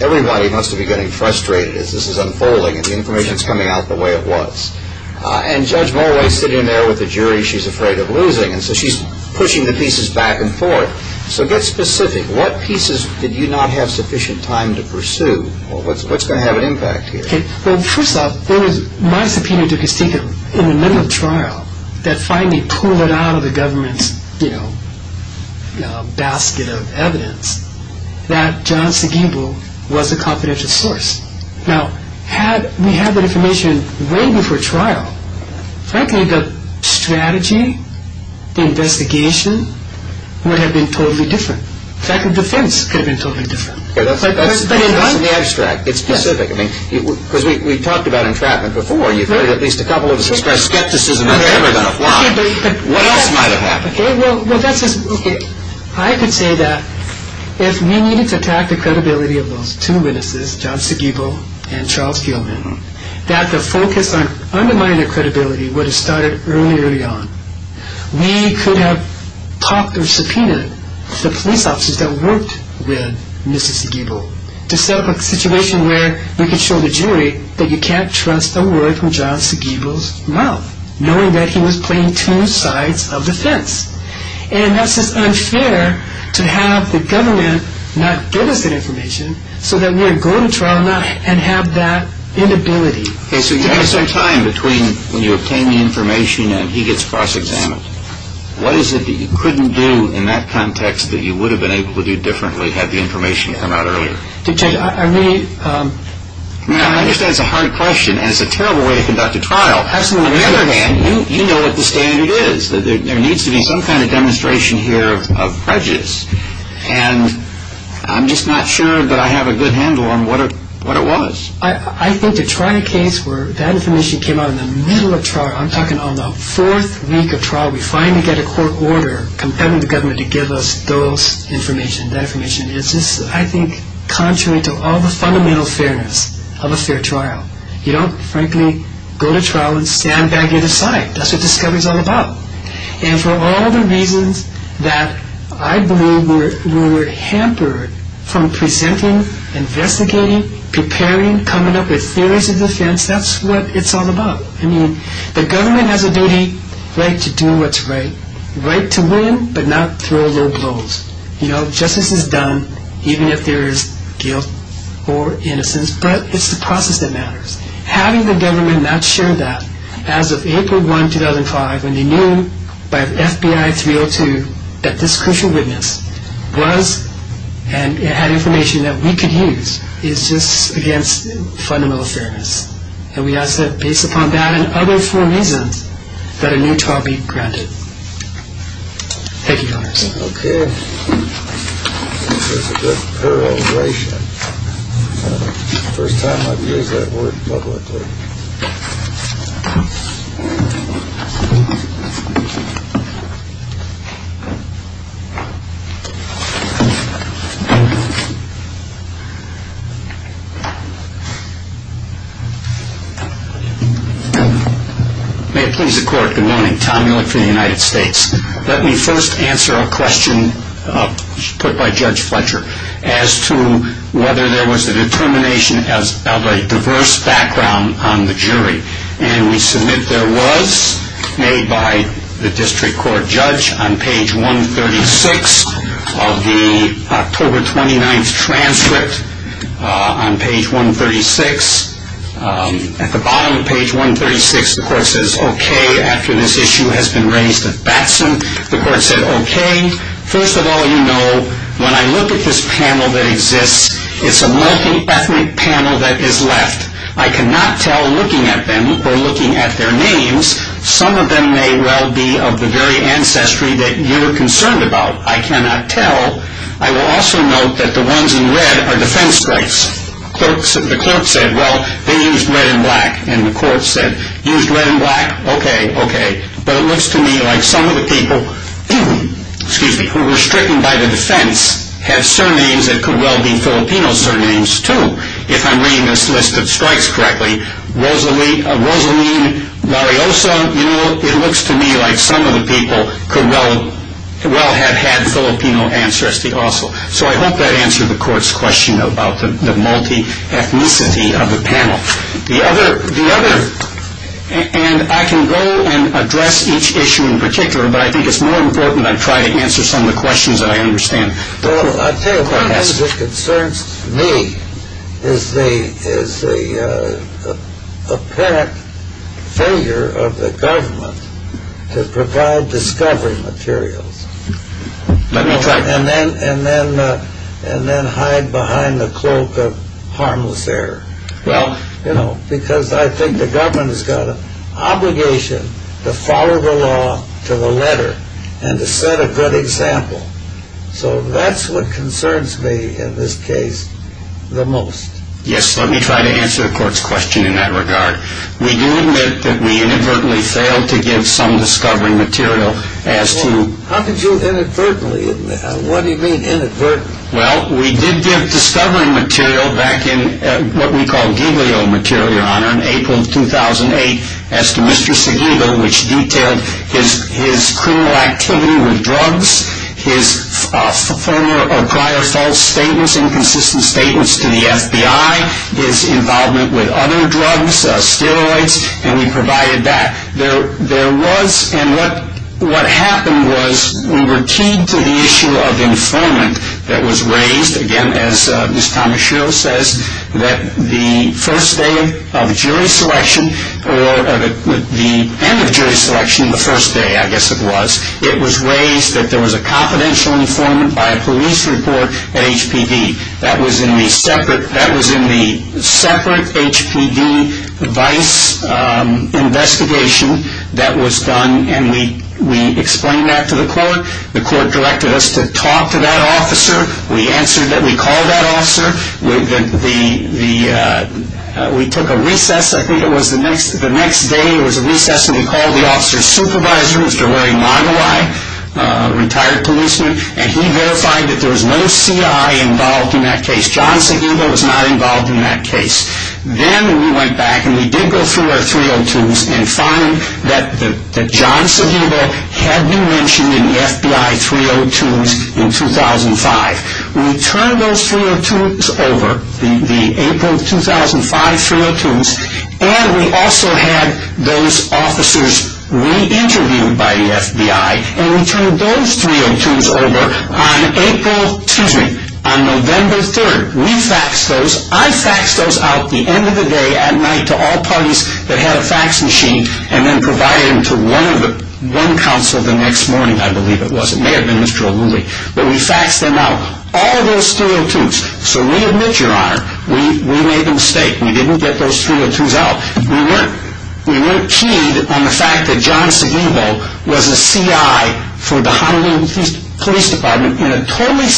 everybody wants to be getting frustrated as this is unfolding and the information is coming out the way it was. And Judge Mulway is sitting there with the jury she's afraid of losing and so she's pushing the pieces back and forth. So get specific. What pieces did you not have sufficient time to pursue? What's going to have an impact here? Well, first off, there was not a subpoena to be taken in the middle of trial that finally pulled it out of the government's, you know, basket of evidence that John Segebo was the confidential source. Now, had we had the information way before trial, frankly, the strategy, the investigation would have been totally different. In fact, the defense could have been totally different. Let me extract. It's specific. I mean, because we talked about entrapment before. At least a couple of us expressed skepticism that they were going to fly. What else might have happened? Okay. I could say that if we needed to attack the credibility of those two witnesses, John Segebo and Charles Gilman, that the focus on undermining credibility would have started early on. We could have talked of subpoenas to the police officers that worked with Mr. Segebo to set up a situation where we could show the jury that you can't trust a word from John Segebo's mouth, knowing that he was playing two sides of the fence. And that's just unfair to have the government not give us that information so that we would go to trial now and have that inability. Okay. So you have some time between when you obtain the information and he gets cross-examined. What is it that you couldn't do in that context that you would have been able to do differently had the information come out earlier? Judge, I really... No, I understand it's a hard question, and it's a terrible way to conduct a trial. Absolutely. On the other hand, you know what the standard is, that there needs to be some kind of demonstration here of prejudice. And I'm just not sure that I have a good handle on what it was. I think to try a case where that information came out in the middle of trial, I'm talking on the fourth week of trial, we finally get a court order compelling the government to give us those information. That information is just, I think, contrary to all the fundamental fairness of a fair trial. You don't, frankly, go to trial and stand back and decide. That's what discovery is all about. And for all the reasons that I believe we're hampered from presenting, investigating, preparing, coming up with theories of defense, that's what it's all about. I mean, the government has a duty, right to do what's right, right to win, but not throw lobes over. You know, justice is done even if there is guilt or innocence, but it's the process that matters. Having the government not share that, as of April 1, 2005, when they knew by FBI 302 that this crucial witness was and it had information that we could use, is just against fundamental fairness. And we have to, based upon that and other four reasons, that a new trial be granted. Thank you very much. Okay. May it please the Court, good morning. Tom Miller from the United States. Let me first answer a question put by Judge Fletcher as to whether there was a determination of a diverse background on the jury. And we submit there was, made by the District Court Judge on page 136 of the October 29th transcript on page 136. At the bottom of page 136, the Court says, Okay, after this issue has been raised at Batson. The Court said, Okay. First of all, you know, when I look at this panel that exists, it's a multi-ethnic panel that is left. I cannot tell looking at them or looking at their names, some of them may well be of the very ancestry that you're concerned about. I cannot tell. I will also note that the ones in red are defense groups. The Court said, Well, they used red and black. And the Court said, Used red and black? Okay, okay. But it looks to me like some of the people, excuse me, who were stricken by the defense have surnames that could well be Filipino surnames, too, if I'm reading this list of stripes correctly. Rosaline, Mariosa, you know, it looks to me like some of the people could well have had Filipino ancestry also. So I hope that answered the Court's question about the multi-ethnicity of the panel. The other, and I can go and address each issue in particular, but I think it's more important I try to answer some of the questions that I understand. Well, I think what concerns me is the apparent failure of the government to provide discovery material and then hide behind the cloak of harmless error. Because I think the government has got an obligation to follow the law to the letter and to set a good example. So that's what concerns me in this case the most. Yes, let me try to answer the Court's question in that regard. We do admit that we inadvertently failed to give some discovery material as to How did you inadvertently? What do you mean inadvertently? Well, we did give discovery material back in what we call Giglio material on April 2008 as to Mr. Seguido, which detailed his criminal activity with drugs, his former or prior false statements, inconsistent statements to the FBI, his involvement with other drugs, steroids, and we provided that. There was, and what happened was we were keyed to the issue of infirmary employment that was raised, again, as Ms. Tomashiro says, that the first day of jury selection or the end of jury selection, the first day I guess it was, it was raised that there was a confidential informant by a police report at HPV. That was in the separate HPV device investigation that was done, and we explained that to the Court. The Court directed us to talk to that officer. We answered that. We called that officer. We took a recess. I think it was the next day, it was a recess, and we called the officer's supervisor, Mr. Larry Monowi, a retired policeman, and he verified that there was no CI involved in that case. John Seguido was not involved in that case. Then we went back, and we did go through our 302s and found that John Seguido had been mentioned in the FBI 302s in 2005. We turned those 302s over, the April 2005 302s, and we also had those officers re-interviewed by the FBI, and we turned those 302s over on April, excuse me, on November 3rd. We faxed those. I faxed those out the end of the day, at night, to all parties that had a fax machine and then provided them to one counsel the next morning, I believe it was. It may have been Mr. O'Leary. But we faxed them out, all those 302s. So we admit your Honor, we made a mistake. We didn't get those 302s out. We weren't keyed on the fact that John Seguido was a CI for the Honolulu Police Department for a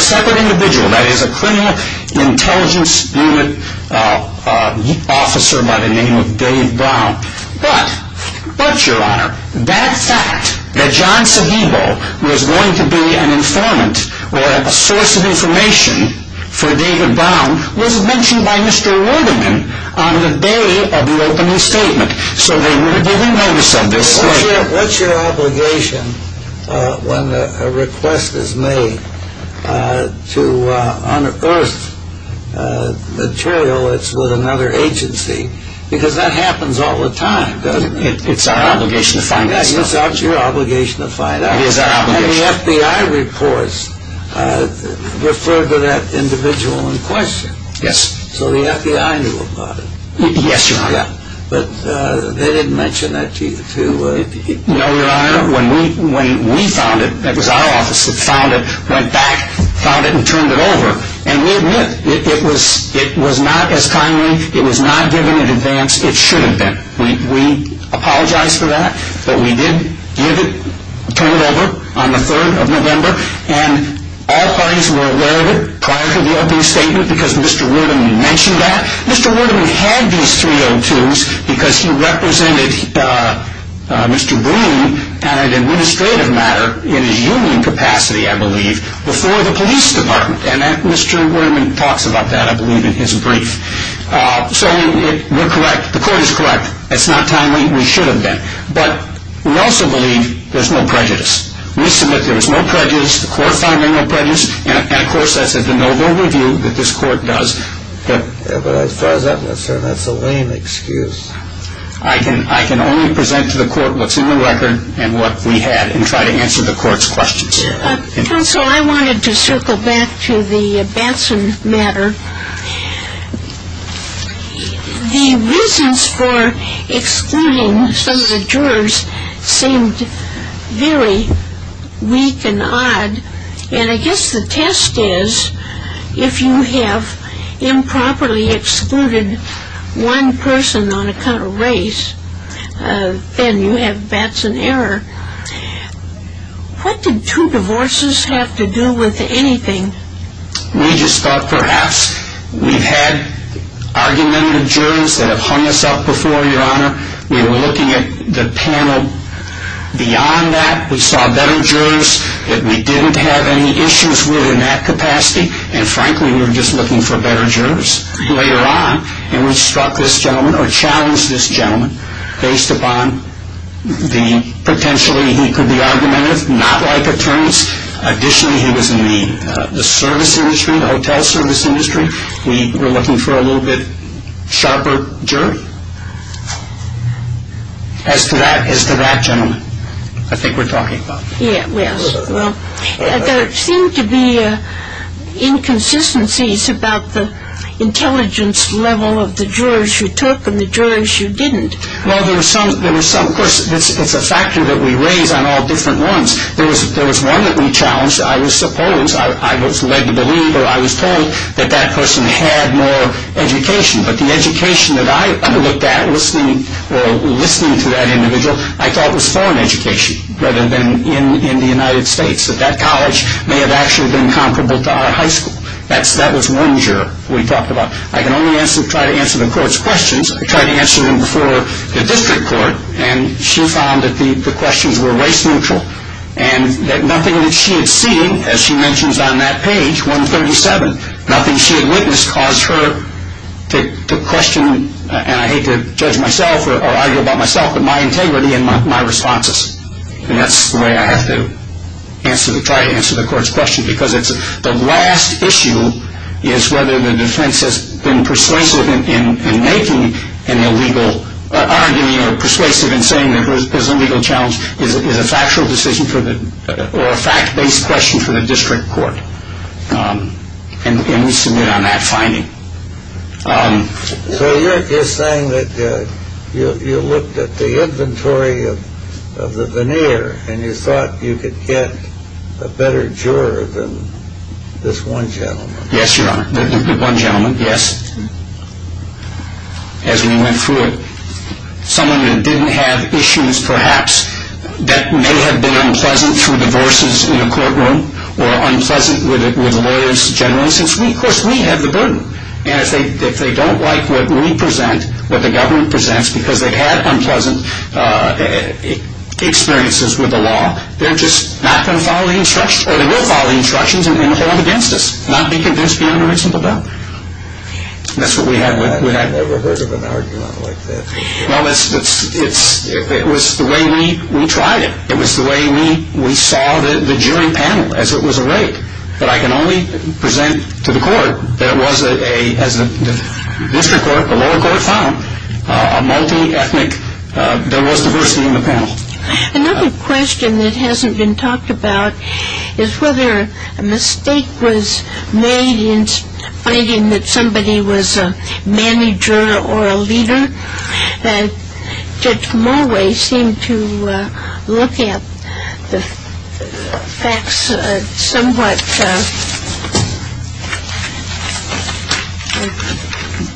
separate individual, that is, a criminal intelligence unit officer by the name of Dave Brown. But, Your Honor, that fact that John Seguido was going to be an informant or a source of information for Dave Brown was mentioned by Mr. Wooderman on the day of the opening statement. So we remember some of this. What's your obligation when a request is made to unearth material that's with another agency? Because that happens all the time, doesn't it? It's our obligation to find out. Yes, it's your obligation to find out. The FBI reports refer to that individual in question. So the FBI knew about it. Yes, Your Honor. But they didn't mention that to you? No, Your Honor. When we found it, that was our office that found it, went back, found it, and turned it over. And we admit it was not as timely, it was not given in advance, it should have been. We apologize for that. But we did give it, turn it over on the 3rd of November, and all parties were aware of it prior to the opening statement because Mr. Wooderman mentioned that. Mr. Wooderman had these 302s because he represented Mr. Breen on an administrative matter in a union capacity, I believe, before the police department. And Mr. Wooderman talks about that, I believe, in his brief. So we're correct. The court is correct. It's not timely. We should have been. But we also believe there's no prejudice. We submit there's no prejudice. The court found there's no prejudice. And, of course, that's a no-no review that this court does. But as far as I'm concerned, that's a lame excuse. I can only present to the court what's in the record and what we had and try to answer the court's questions. Counsel, I wanted to circle back to the Batson matter. The reasons for excluding some of the jurors seemed very weak and odd. And I guess the test is if you have improperly excluded one person on account of race, then you have Batson error. What did two divorces have to do with anything? We just thought perhaps. We've had argumentative jurors that have hung us up before, Your Honor. We were looking at the panel beyond that. We saw better jurors that we didn't have any issues with in that capacity. And, frankly, we were just looking for better jurors. Later on, we struck this gentleman or challenged this gentleman based upon the potential he could be argumentative, not like attorneys. Additionally, he was in the service industry, the hotel service industry. We were looking for a little bit sharper jury. As to that gentleman, I think we're talking about. Yes. Well, there seemed to be inconsistencies about the intelligence level of the jurors who took and the jurors who didn't. Well, there was some person. It's a factor that we raised on all different ones. There was one that we challenged. I was supposed. I was a lay believer. I was told that that person had more education. But the education that I looked at listening to that individual I thought was foreign education rather than in the United States, that that college may have actually been comparable to our high school. That was one juror we talked about. I can only try to answer the court's questions. I tried to answer them before the district court, and she found that the questions were race neutral and that nothing that she had seen, as she mentions on that page, 137, nothing she had witnessed caused her to question, and I hate to judge myself or argue about myself, but my integrity and my responses. And that's the way I have to try to answer the court's questions because the last issue is whether the defense has been persuasive in making an illegal argument or persuasive in saying that there's an illegal challenge is a factual decision or a fact-based question for the district court. And we submit on that finding. So you're saying that you looked at the inventory of the veneer and you thought you could get a better juror than this one gentleman? Yes, Your Honor, the one gentleman, yes, as we went through it. Someone that didn't have issues perhaps that may have been unpleasant through the verses in the courtroom or unpleasant with the lawyers generally, since, of course, we had the burden. And if they don't like what we present, what the government presents, because they had unpleasant experiences with the law, they're just not going to follow the instructions, or they will follow the instructions, and then they'll hold it against us. Not be convinced of the interests of the bill. I've never heard of an argument like that. No, it was the way we tried it. It was the way we saw the jury panel, as it was a rate that I can only present to the court. There was a, as the district court, a lower court found, a multi-ethnic, there was diversity in the panel. Another question that hasn't been talked about is whether a mistake was made in stating that somebody was a manager or a leader and Judge Mulway seemed to look at the facts somewhat.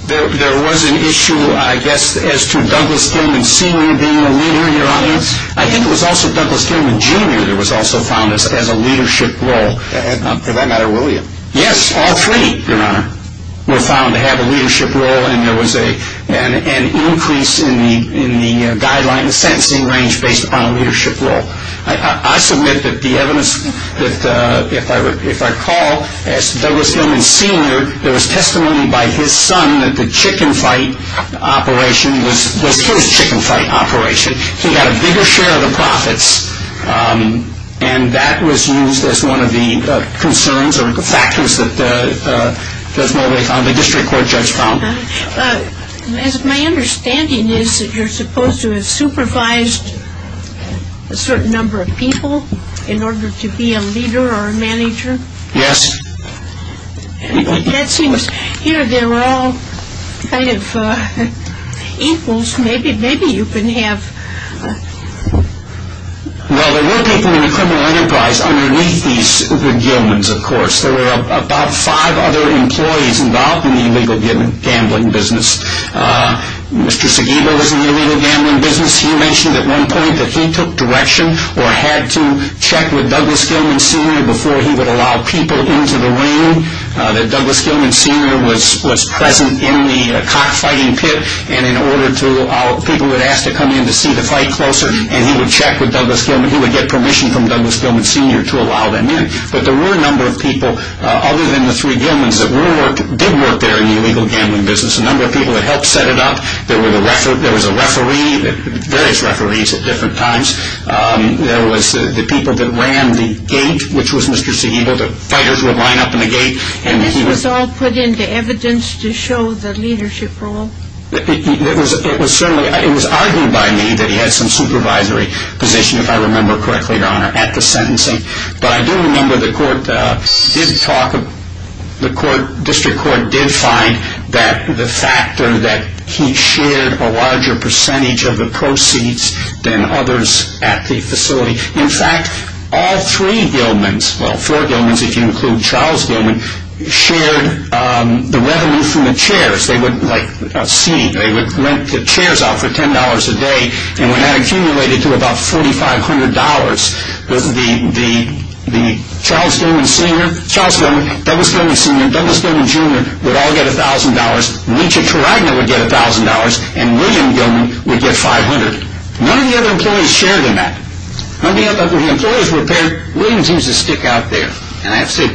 There was an issue, I guess, as to Douglas Tillman Sr. being a leader, Your Honor. I think it was also Douglas Tillman Jr. that was also found as a leadership role. For that matter, were you? Yes, all three, Your Honor, were found to have a leadership role. And an increase in the guideline sentencing range based upon a leadership role. I submit that the evidence that, if I recall, as Douglas Tillman Sr., there was testimony by his son that the chicken fight operation was, well, it sure was a chicken fight operation. He got a bigger share of the profits, and that was used as one of the concerns or factors that Judge Mulway found, the district court judge found. My understanding is that you're supposed to have supervised a certain number of people in order to be a leader or a manager. Yes. That seems, here they're all kind of equals. Maybe you can have... Now, there were people in the criminal enterprise underneath these good gentlemen, of course. There were about five other employees involved in the illegal gambling business. Mr. Seguido was in the illegal gambling business. He mentioned at one point that he took direction or had to check with Douglas Tillman Sr. before he would allow people into the room. Douglas Tillman Sr. was present in the cockfighting pit, and in order to, people would ask to come in to see the fight closer, and he would check with Douglas Tillman. He would get permission from Douglas Tillman Sr. to allow them in. But there were a number of people, other than the three gentlemen, that did work there in the illegal gambling business, a number of people that helped set it up. There was a referee, various referees at different times. There was the people that ran the gate, which was Mr. Seguido. The fighters would line up in the gate, and he would... He was all put into evidence to show the leadership role? It was argued by me that he had some supervisory position, if I remember correctly, Your Honor, at the sentencing. But I do remember the court did talk, the district court did find that the factor that he shared a larger percentage of the proceeds than others at the facility. In fact, all three Gilmans, well, four Gilmans if you include Charles Gilman, shared the revenue from the chairs. Of course, they wouldn't let us see. They would rent the chairs out for $10 a day, and that accumulated to about $4,500. The Charles Gilman, Douglas Tillman Sr., Douglas Tillman Jr. would all get $1,000. Nietzsche to Reitman would get $1,000, and William Gilman would get $500. None of the other employees shared in that. None of the other employees were there. William seems to stick out there, and that's it.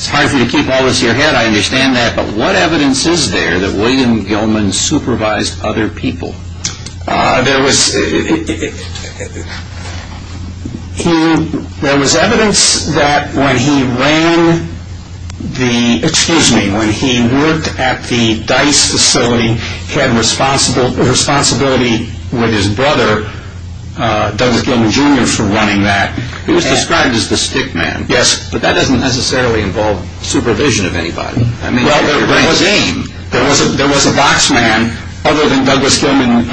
It's hard for you to keep all this to your head, I understand that, but what evidence is there that William Gilman supervised other people? There was evidence that when he ran the, excuse me, when he worked at the Dice facility, he had a responsibility with his brother, Douglas Gilman Jr., for running that. He was described as the stick man. Yes, but that doesn't necessarily involve supervision of anybody. There was a box man, other than Douglas Gilman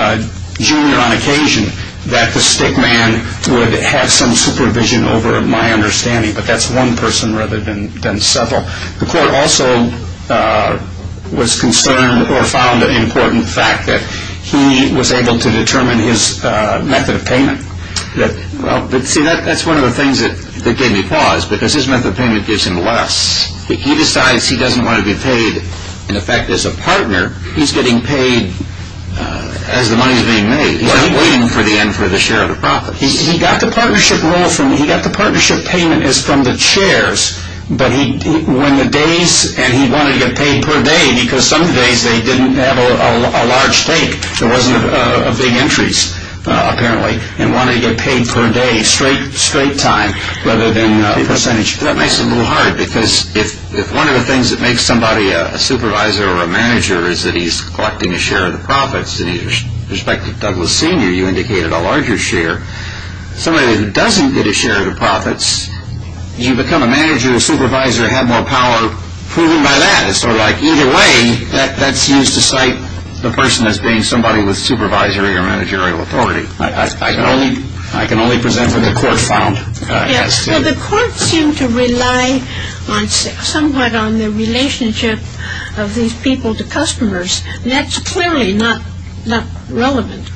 Jr. on occasion, that the stick man would have some supervision over, in my understanding, but that's one person rather than several. The court also was concerned or found an important fact that he was able to determine his method of payment. See, that's one of the things that gave me pause, because his method of payment gives him less. He decides he doesn't want to be paid. In effect, as a partner, he's getting paid as the money is being made. He's not waiting for the end for the share of the profit. He got the partnership payment from the chairs, and he wanted to get paid per day, because some days they didn't have a large stake. So it wasn't a big interest, apparently, and wanted to get paid per day, straight time, rather than percentage. That makes it a little hard, because if one of the things that makes somebody a supervisor or a manager is that he's collecting a share of the profits, and with respect to Douglas Sr., you indicated a larger share. Somebody that doesn't get a share of the profits, you become a manager, a supervisor, have more power. So either way, that seems to cite the person as being somebody with supervisory or managerial authority. I can only present what the court found. The court seemed to rely somewhat on the relationship of these people to customers. That's clearly not relevant.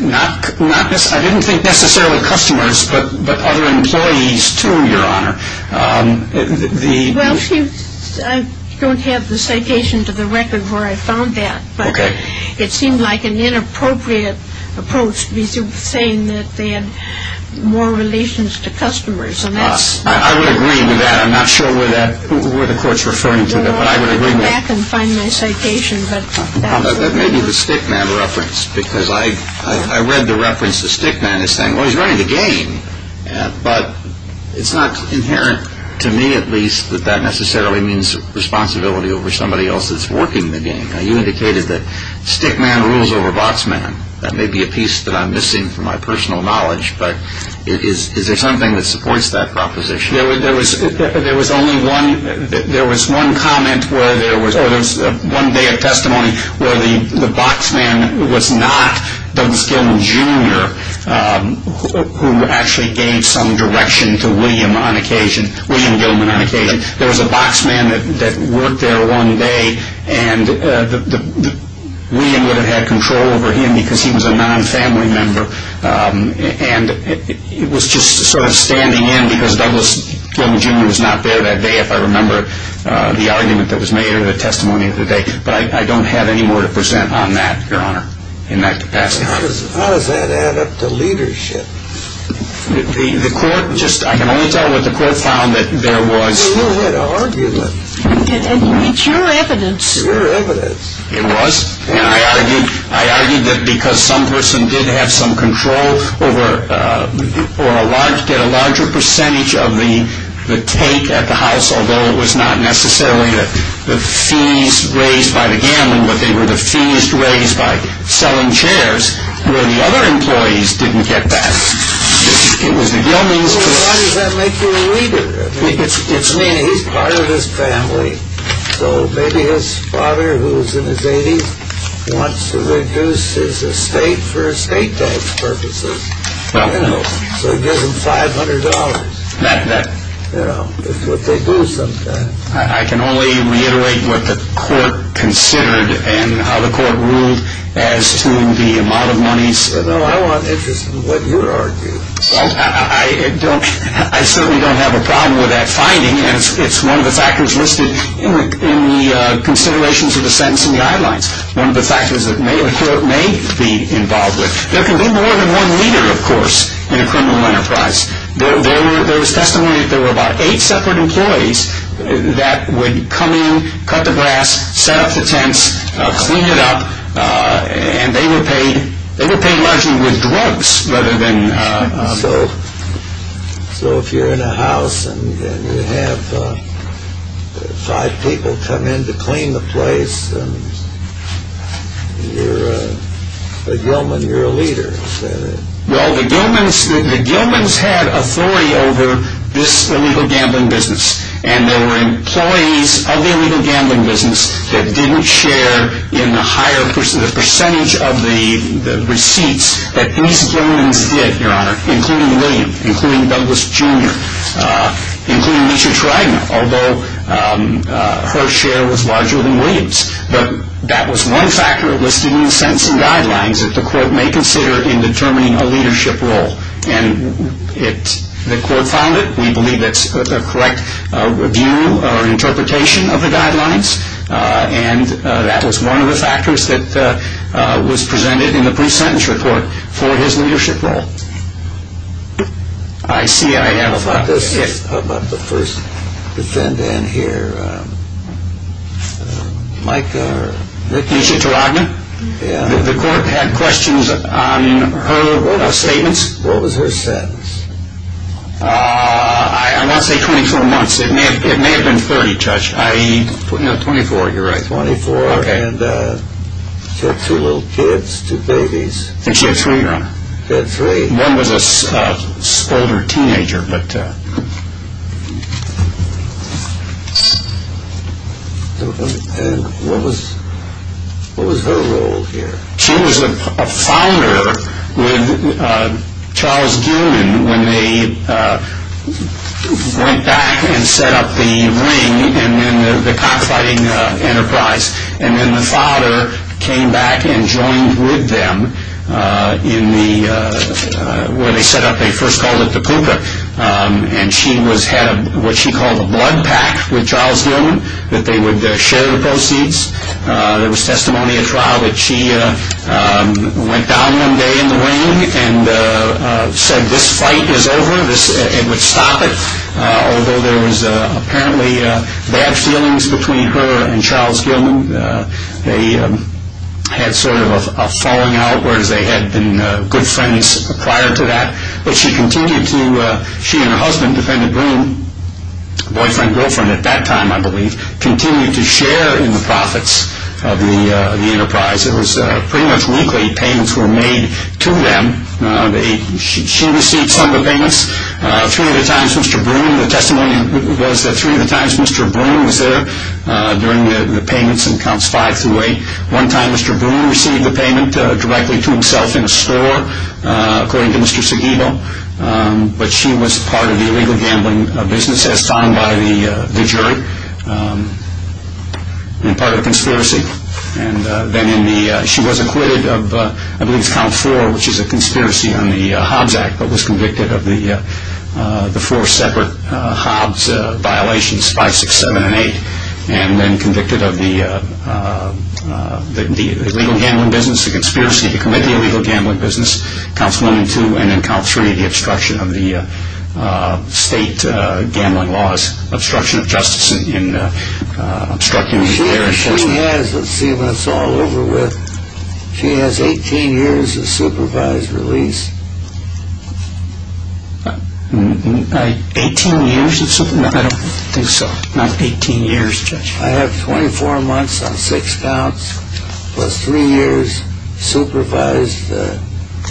I didn't think necessarily customers, but other employees, too, Your Honor. Well, I don't have the citation to the record where I found that, but it seemed like an inappropriate approach to be saying that they had more relations to customers. I would agree with that. I'm not sure where the court's referring to that, but I would agree with that. That may be the stickman reference, because I read the reference, the stickman is saying, well, he's running the game, but it's not inherent to me, at least, that that necessarily means responsibility over somebody else that's working the game. Now, you indicated that stickman rules over boxman. That may be a piece that I'm missing from my personal knowledge, but is there something that supports that proposition? There was one day of testimony where the boxman was not Douglas Gilman, Jr., who actually gave some direction to William Gilman on occasion. There was a boxman that worked there one day, and William would have had control over him because he was a non-family member, and it was just sort of standing in because Douglas Gilman, Jr. was not there that day, if I remember the argument that was made or the testimony of the day, but I don't have any more to present on that, Your Honor, in that capacity. How does that add up to leadership? The court just, I can only tell you what the court found that there was. You had argued it. It's your evidence. It's your evidence. It was. And I argued that because some person did have some control over a larger percentage of the take at the house, although it was not necessarily the fees raised by the Gilman, but they were the fees raised by selling chairs, where the other employees didn't get that. It was the Gilman's. Why does that make you a leader? I mean, he's part of this family. So maybe his father, who was in his 80s, wants to reduce his estate for estate tax purposes. So he gives him $500. That's what they do sometimes. I can only reiterate what the court considered and how the court ruled as to the amount of money. I'm not interested in what you argue. I certainly don't have a problem with that finding. It's one of the factors listed in the considerations of the sentencing guidelines, one of the factors that a court may be involved with. There can be more than one leader, of course, in a criminal enterprise. There is testimony that there were about eight separate employees that would come in, cut the grass, set up the tents, clean it up, and they would pay largely with drugs rather than... So if you're in a house and you have five people come in to clean the place, you're a Gilman, you're a leader. Well, the Gilman's had authority over this illegal gambling business, and there were employees of the illegal gambling business that didn't share in the percentage of the receipts that these Gilmans did, Your Honor, including William, including Douglas Junior, including Mr. Schreiber, although her share was larger than William's. But that was one factor listed in the sentencing guidelines that the court may consider in determining a leadership role, and the court found it. We believe that's a correct view or interpretation of the guidelines, and that was one of the factors that was presented in the pre-sentence report for his leadership role. I see I have a question about the first defendant here. Mike or Mr. Rodman? The court had questions on her statements. What was her sentence? I won't say 24 months. It may have been 30, Judge. No, 24, you're right, 24. And she had two little kids, two babies. She had three, Your Honor. She had three. One was an older teenager. And what was her role here? She was a founder with Charles Gilman when they went back and set up the ring in the cockfighting enterprise. And then the father came back and joined with them in the, where they set up, they first called it the cooper. And she was head of what she called a blood pact with Charles Gilman, that they would share the proceeds. There was testimony as well that she went down one day in the ring and said this fight is over, it would stop it. Although there was apparently bad feelings between her and Charles Gilman. They had sort of a falling out, whereas they had been good friends prior to that. But she continued to, she and her husband, Defendant Green, boyfriend, girlfriend at that time, I believe, continued to share in the profits of the enterprise. There was pretty much weekly payments were made to them. She received some of the payments. Three of the times Mr. Broom, the testimony was that three of the times Mr. Broom was there during the payments in Counts 5-8. One time Mr. Broom received the payment directly to himself in the store, according to Mr. Seguido. But she was part of the illegal gambling business, set aside by the jury in part of a conspiracy. Then she was acquitted of, I believe, Count 4, which is a conspiracy on the Hobbs Act, but was convicted of the four separate Hobbs violations, 5, 6, 7, and 8, and then convicted of the illegal gambling business, the conspiracy to commit the illegal gambling business, Counts 1 and 2, and then Count 3, the obstruction of the state gambling laws, obstruction of justice in obstructing... She actually has, let's see when it's all over with, she has 18 years of supervised release. 18 years of supervision? I don't think so. Not 18 years, Judge. I have 24 months on 6 counts, plus 3 years supervised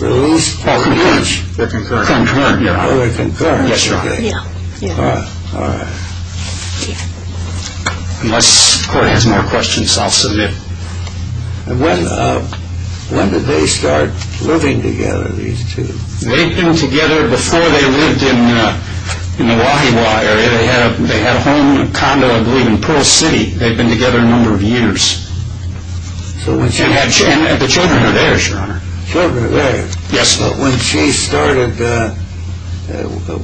release. Oh, concurrence. They're concurrence. Oh, they're concurrence. That's right. Yeah. All right. Yeah. Unless the court has more questions, I'll submit. When did they start living together, these two? They've been together before they lived in the Wahegaw area. They had a home, a condo, I believe, in Pearl City. They've been together a number of years. And the children are there, Your Honor. Children are there. Yes, but when she started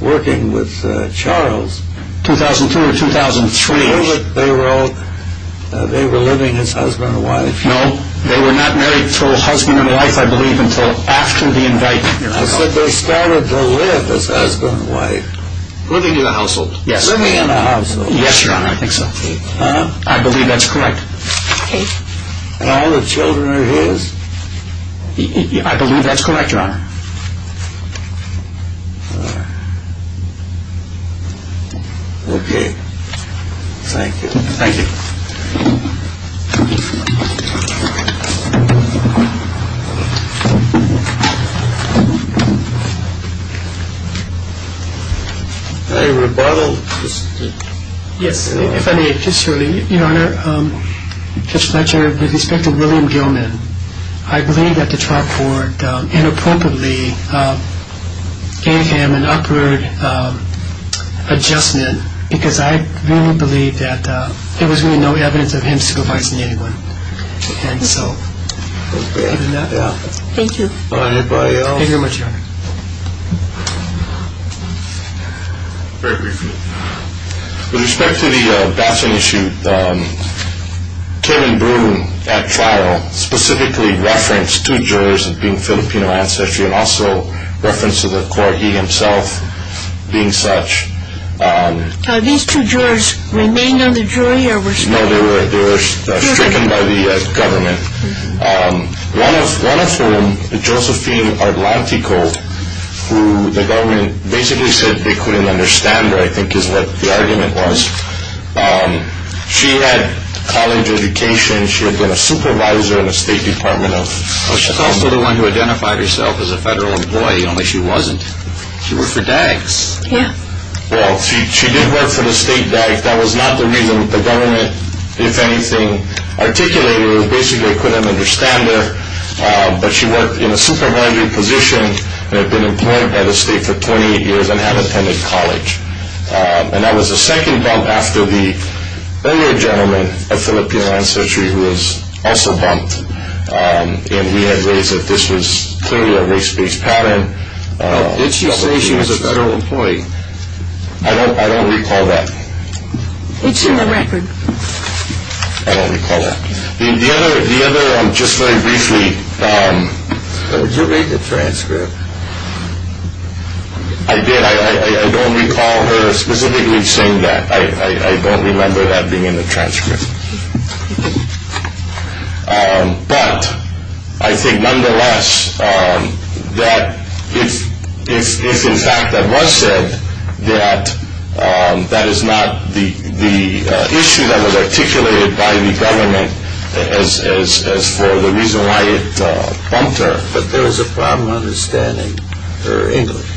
working with Charles, 2002 or 2003, they were living as husband and wife. No, they were not married as husband and wife, I believe, But they started to live as husband and wife. Living in a household. Yes. Living in a household. Yes, Your Honor, I think so. I believe that's correct. And all the children are his? I believe that's correct, Your Honor. Okay. Thank you. Thank you. Any rebuttals? Yes. If I may, just shortly. Your Honor, just my chair, with respect to William Drummond, I believe that the trial court inappropriately gave him an upward adjustment because I really believe that there was really no evidence of him single-parenting anyone. Okay. Thank you. Thank you very much, Your Honor. Thank you. With respect to the vaccine issue, Terry Broom at trial specifically referenced two jurors being Filipino ancestry and also referenced the court being himself being such. Are these two jurors remain on the jury or were split? No, they were split by the government, one of whom, Josephine Arlanticold, who the government basically said they couldn't understand her, I think is what the argument was. She had college education. She had been a supervisor of the State Department of Health. She's also the one who identified herself as a federal employee, only she wasn't. She worked for DAIC. Yes. Well, she did work for the State DAIC. That was not the reason the government, if anything, articulated her, basically couldn't understand her, but she worked in a supermarket position and had been employed by the state for 28 years and had attended college, and that was the second bump after the earlier gentleman, a Filipino ancestry, who was also bumped and he had raised that this was clearly a race-based pattern. Did she say she was a federal employee? I don't recall that. It's in the record. I don't recall that. The other one, just very briefly. Did you make a transcript? I did. I don't recall her specifically saying that. But I think, nonetheless, that if in fact that was said, that that is not the issue that was articulated by the government as for the reason why it bumped her. But there was a problem understanding her English.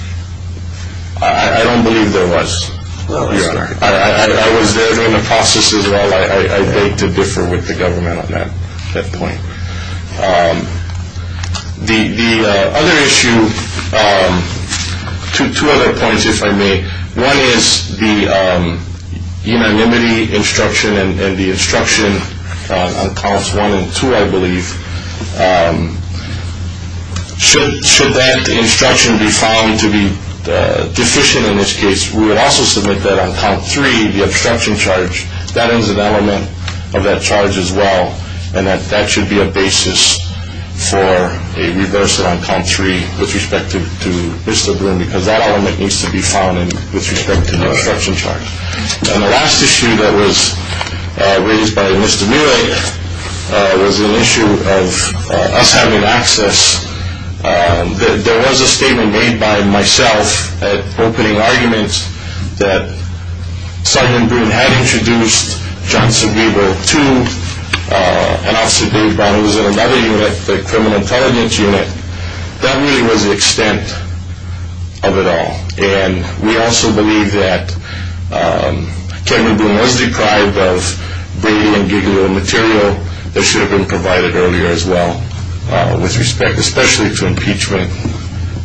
I don't believe there was. I was there during the process as well. I beg to differ with the government on that point. The other issue, two other points, if I may. One is the unanimity instruction and the instruction on comments one and two, I believe. Should that instruction be found to be deficient in this case? We would also submit that on comment three, the obstruction charge, that is an element of that charge as well, and that that should be a basis for a reversal on comment three with respect to Mr. Bloom because that element needs to be found with respect to the obstruction charge. And the last issue that was raised by Mr. Mule was an issue of us having access. There was a statement made by myself at opening arguments that Sgt. Bloom had introduced John Sobibor to an officer named Brown, who was in another unit, the criminal intelligence unit. That really was the extent of it all. And we also believe that Sgt. Bloom was deprived of brilliant, I can give you the material that should have been provided earlier as well, with respect especially to impeachment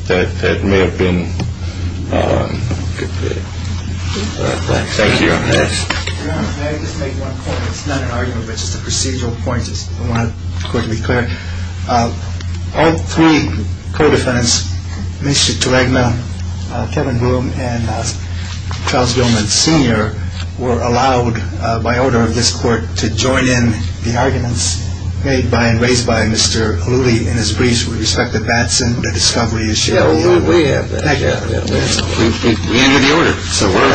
that may have been. Thank you. Can I just make one point? It's not an argument, it's just a procedural point. I want it to be clear. All three co-defendants, Mr. Keregna, Kevin Bloom, and Charles Gilman Sr. were allowed by order of this court to join in the arguments made by and raised by Mr. Hulloody and his briefs. We respect that that's in the discovery issue. We have that. We need the order. So we're all in.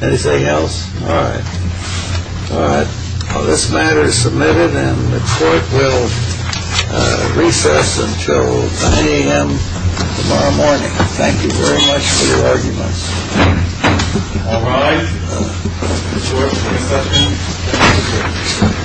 Anything else? No. All right. This matter is submitted and the court will recess until 9 a.m. tomorrow morning. Thank you very much for your arguments. All right.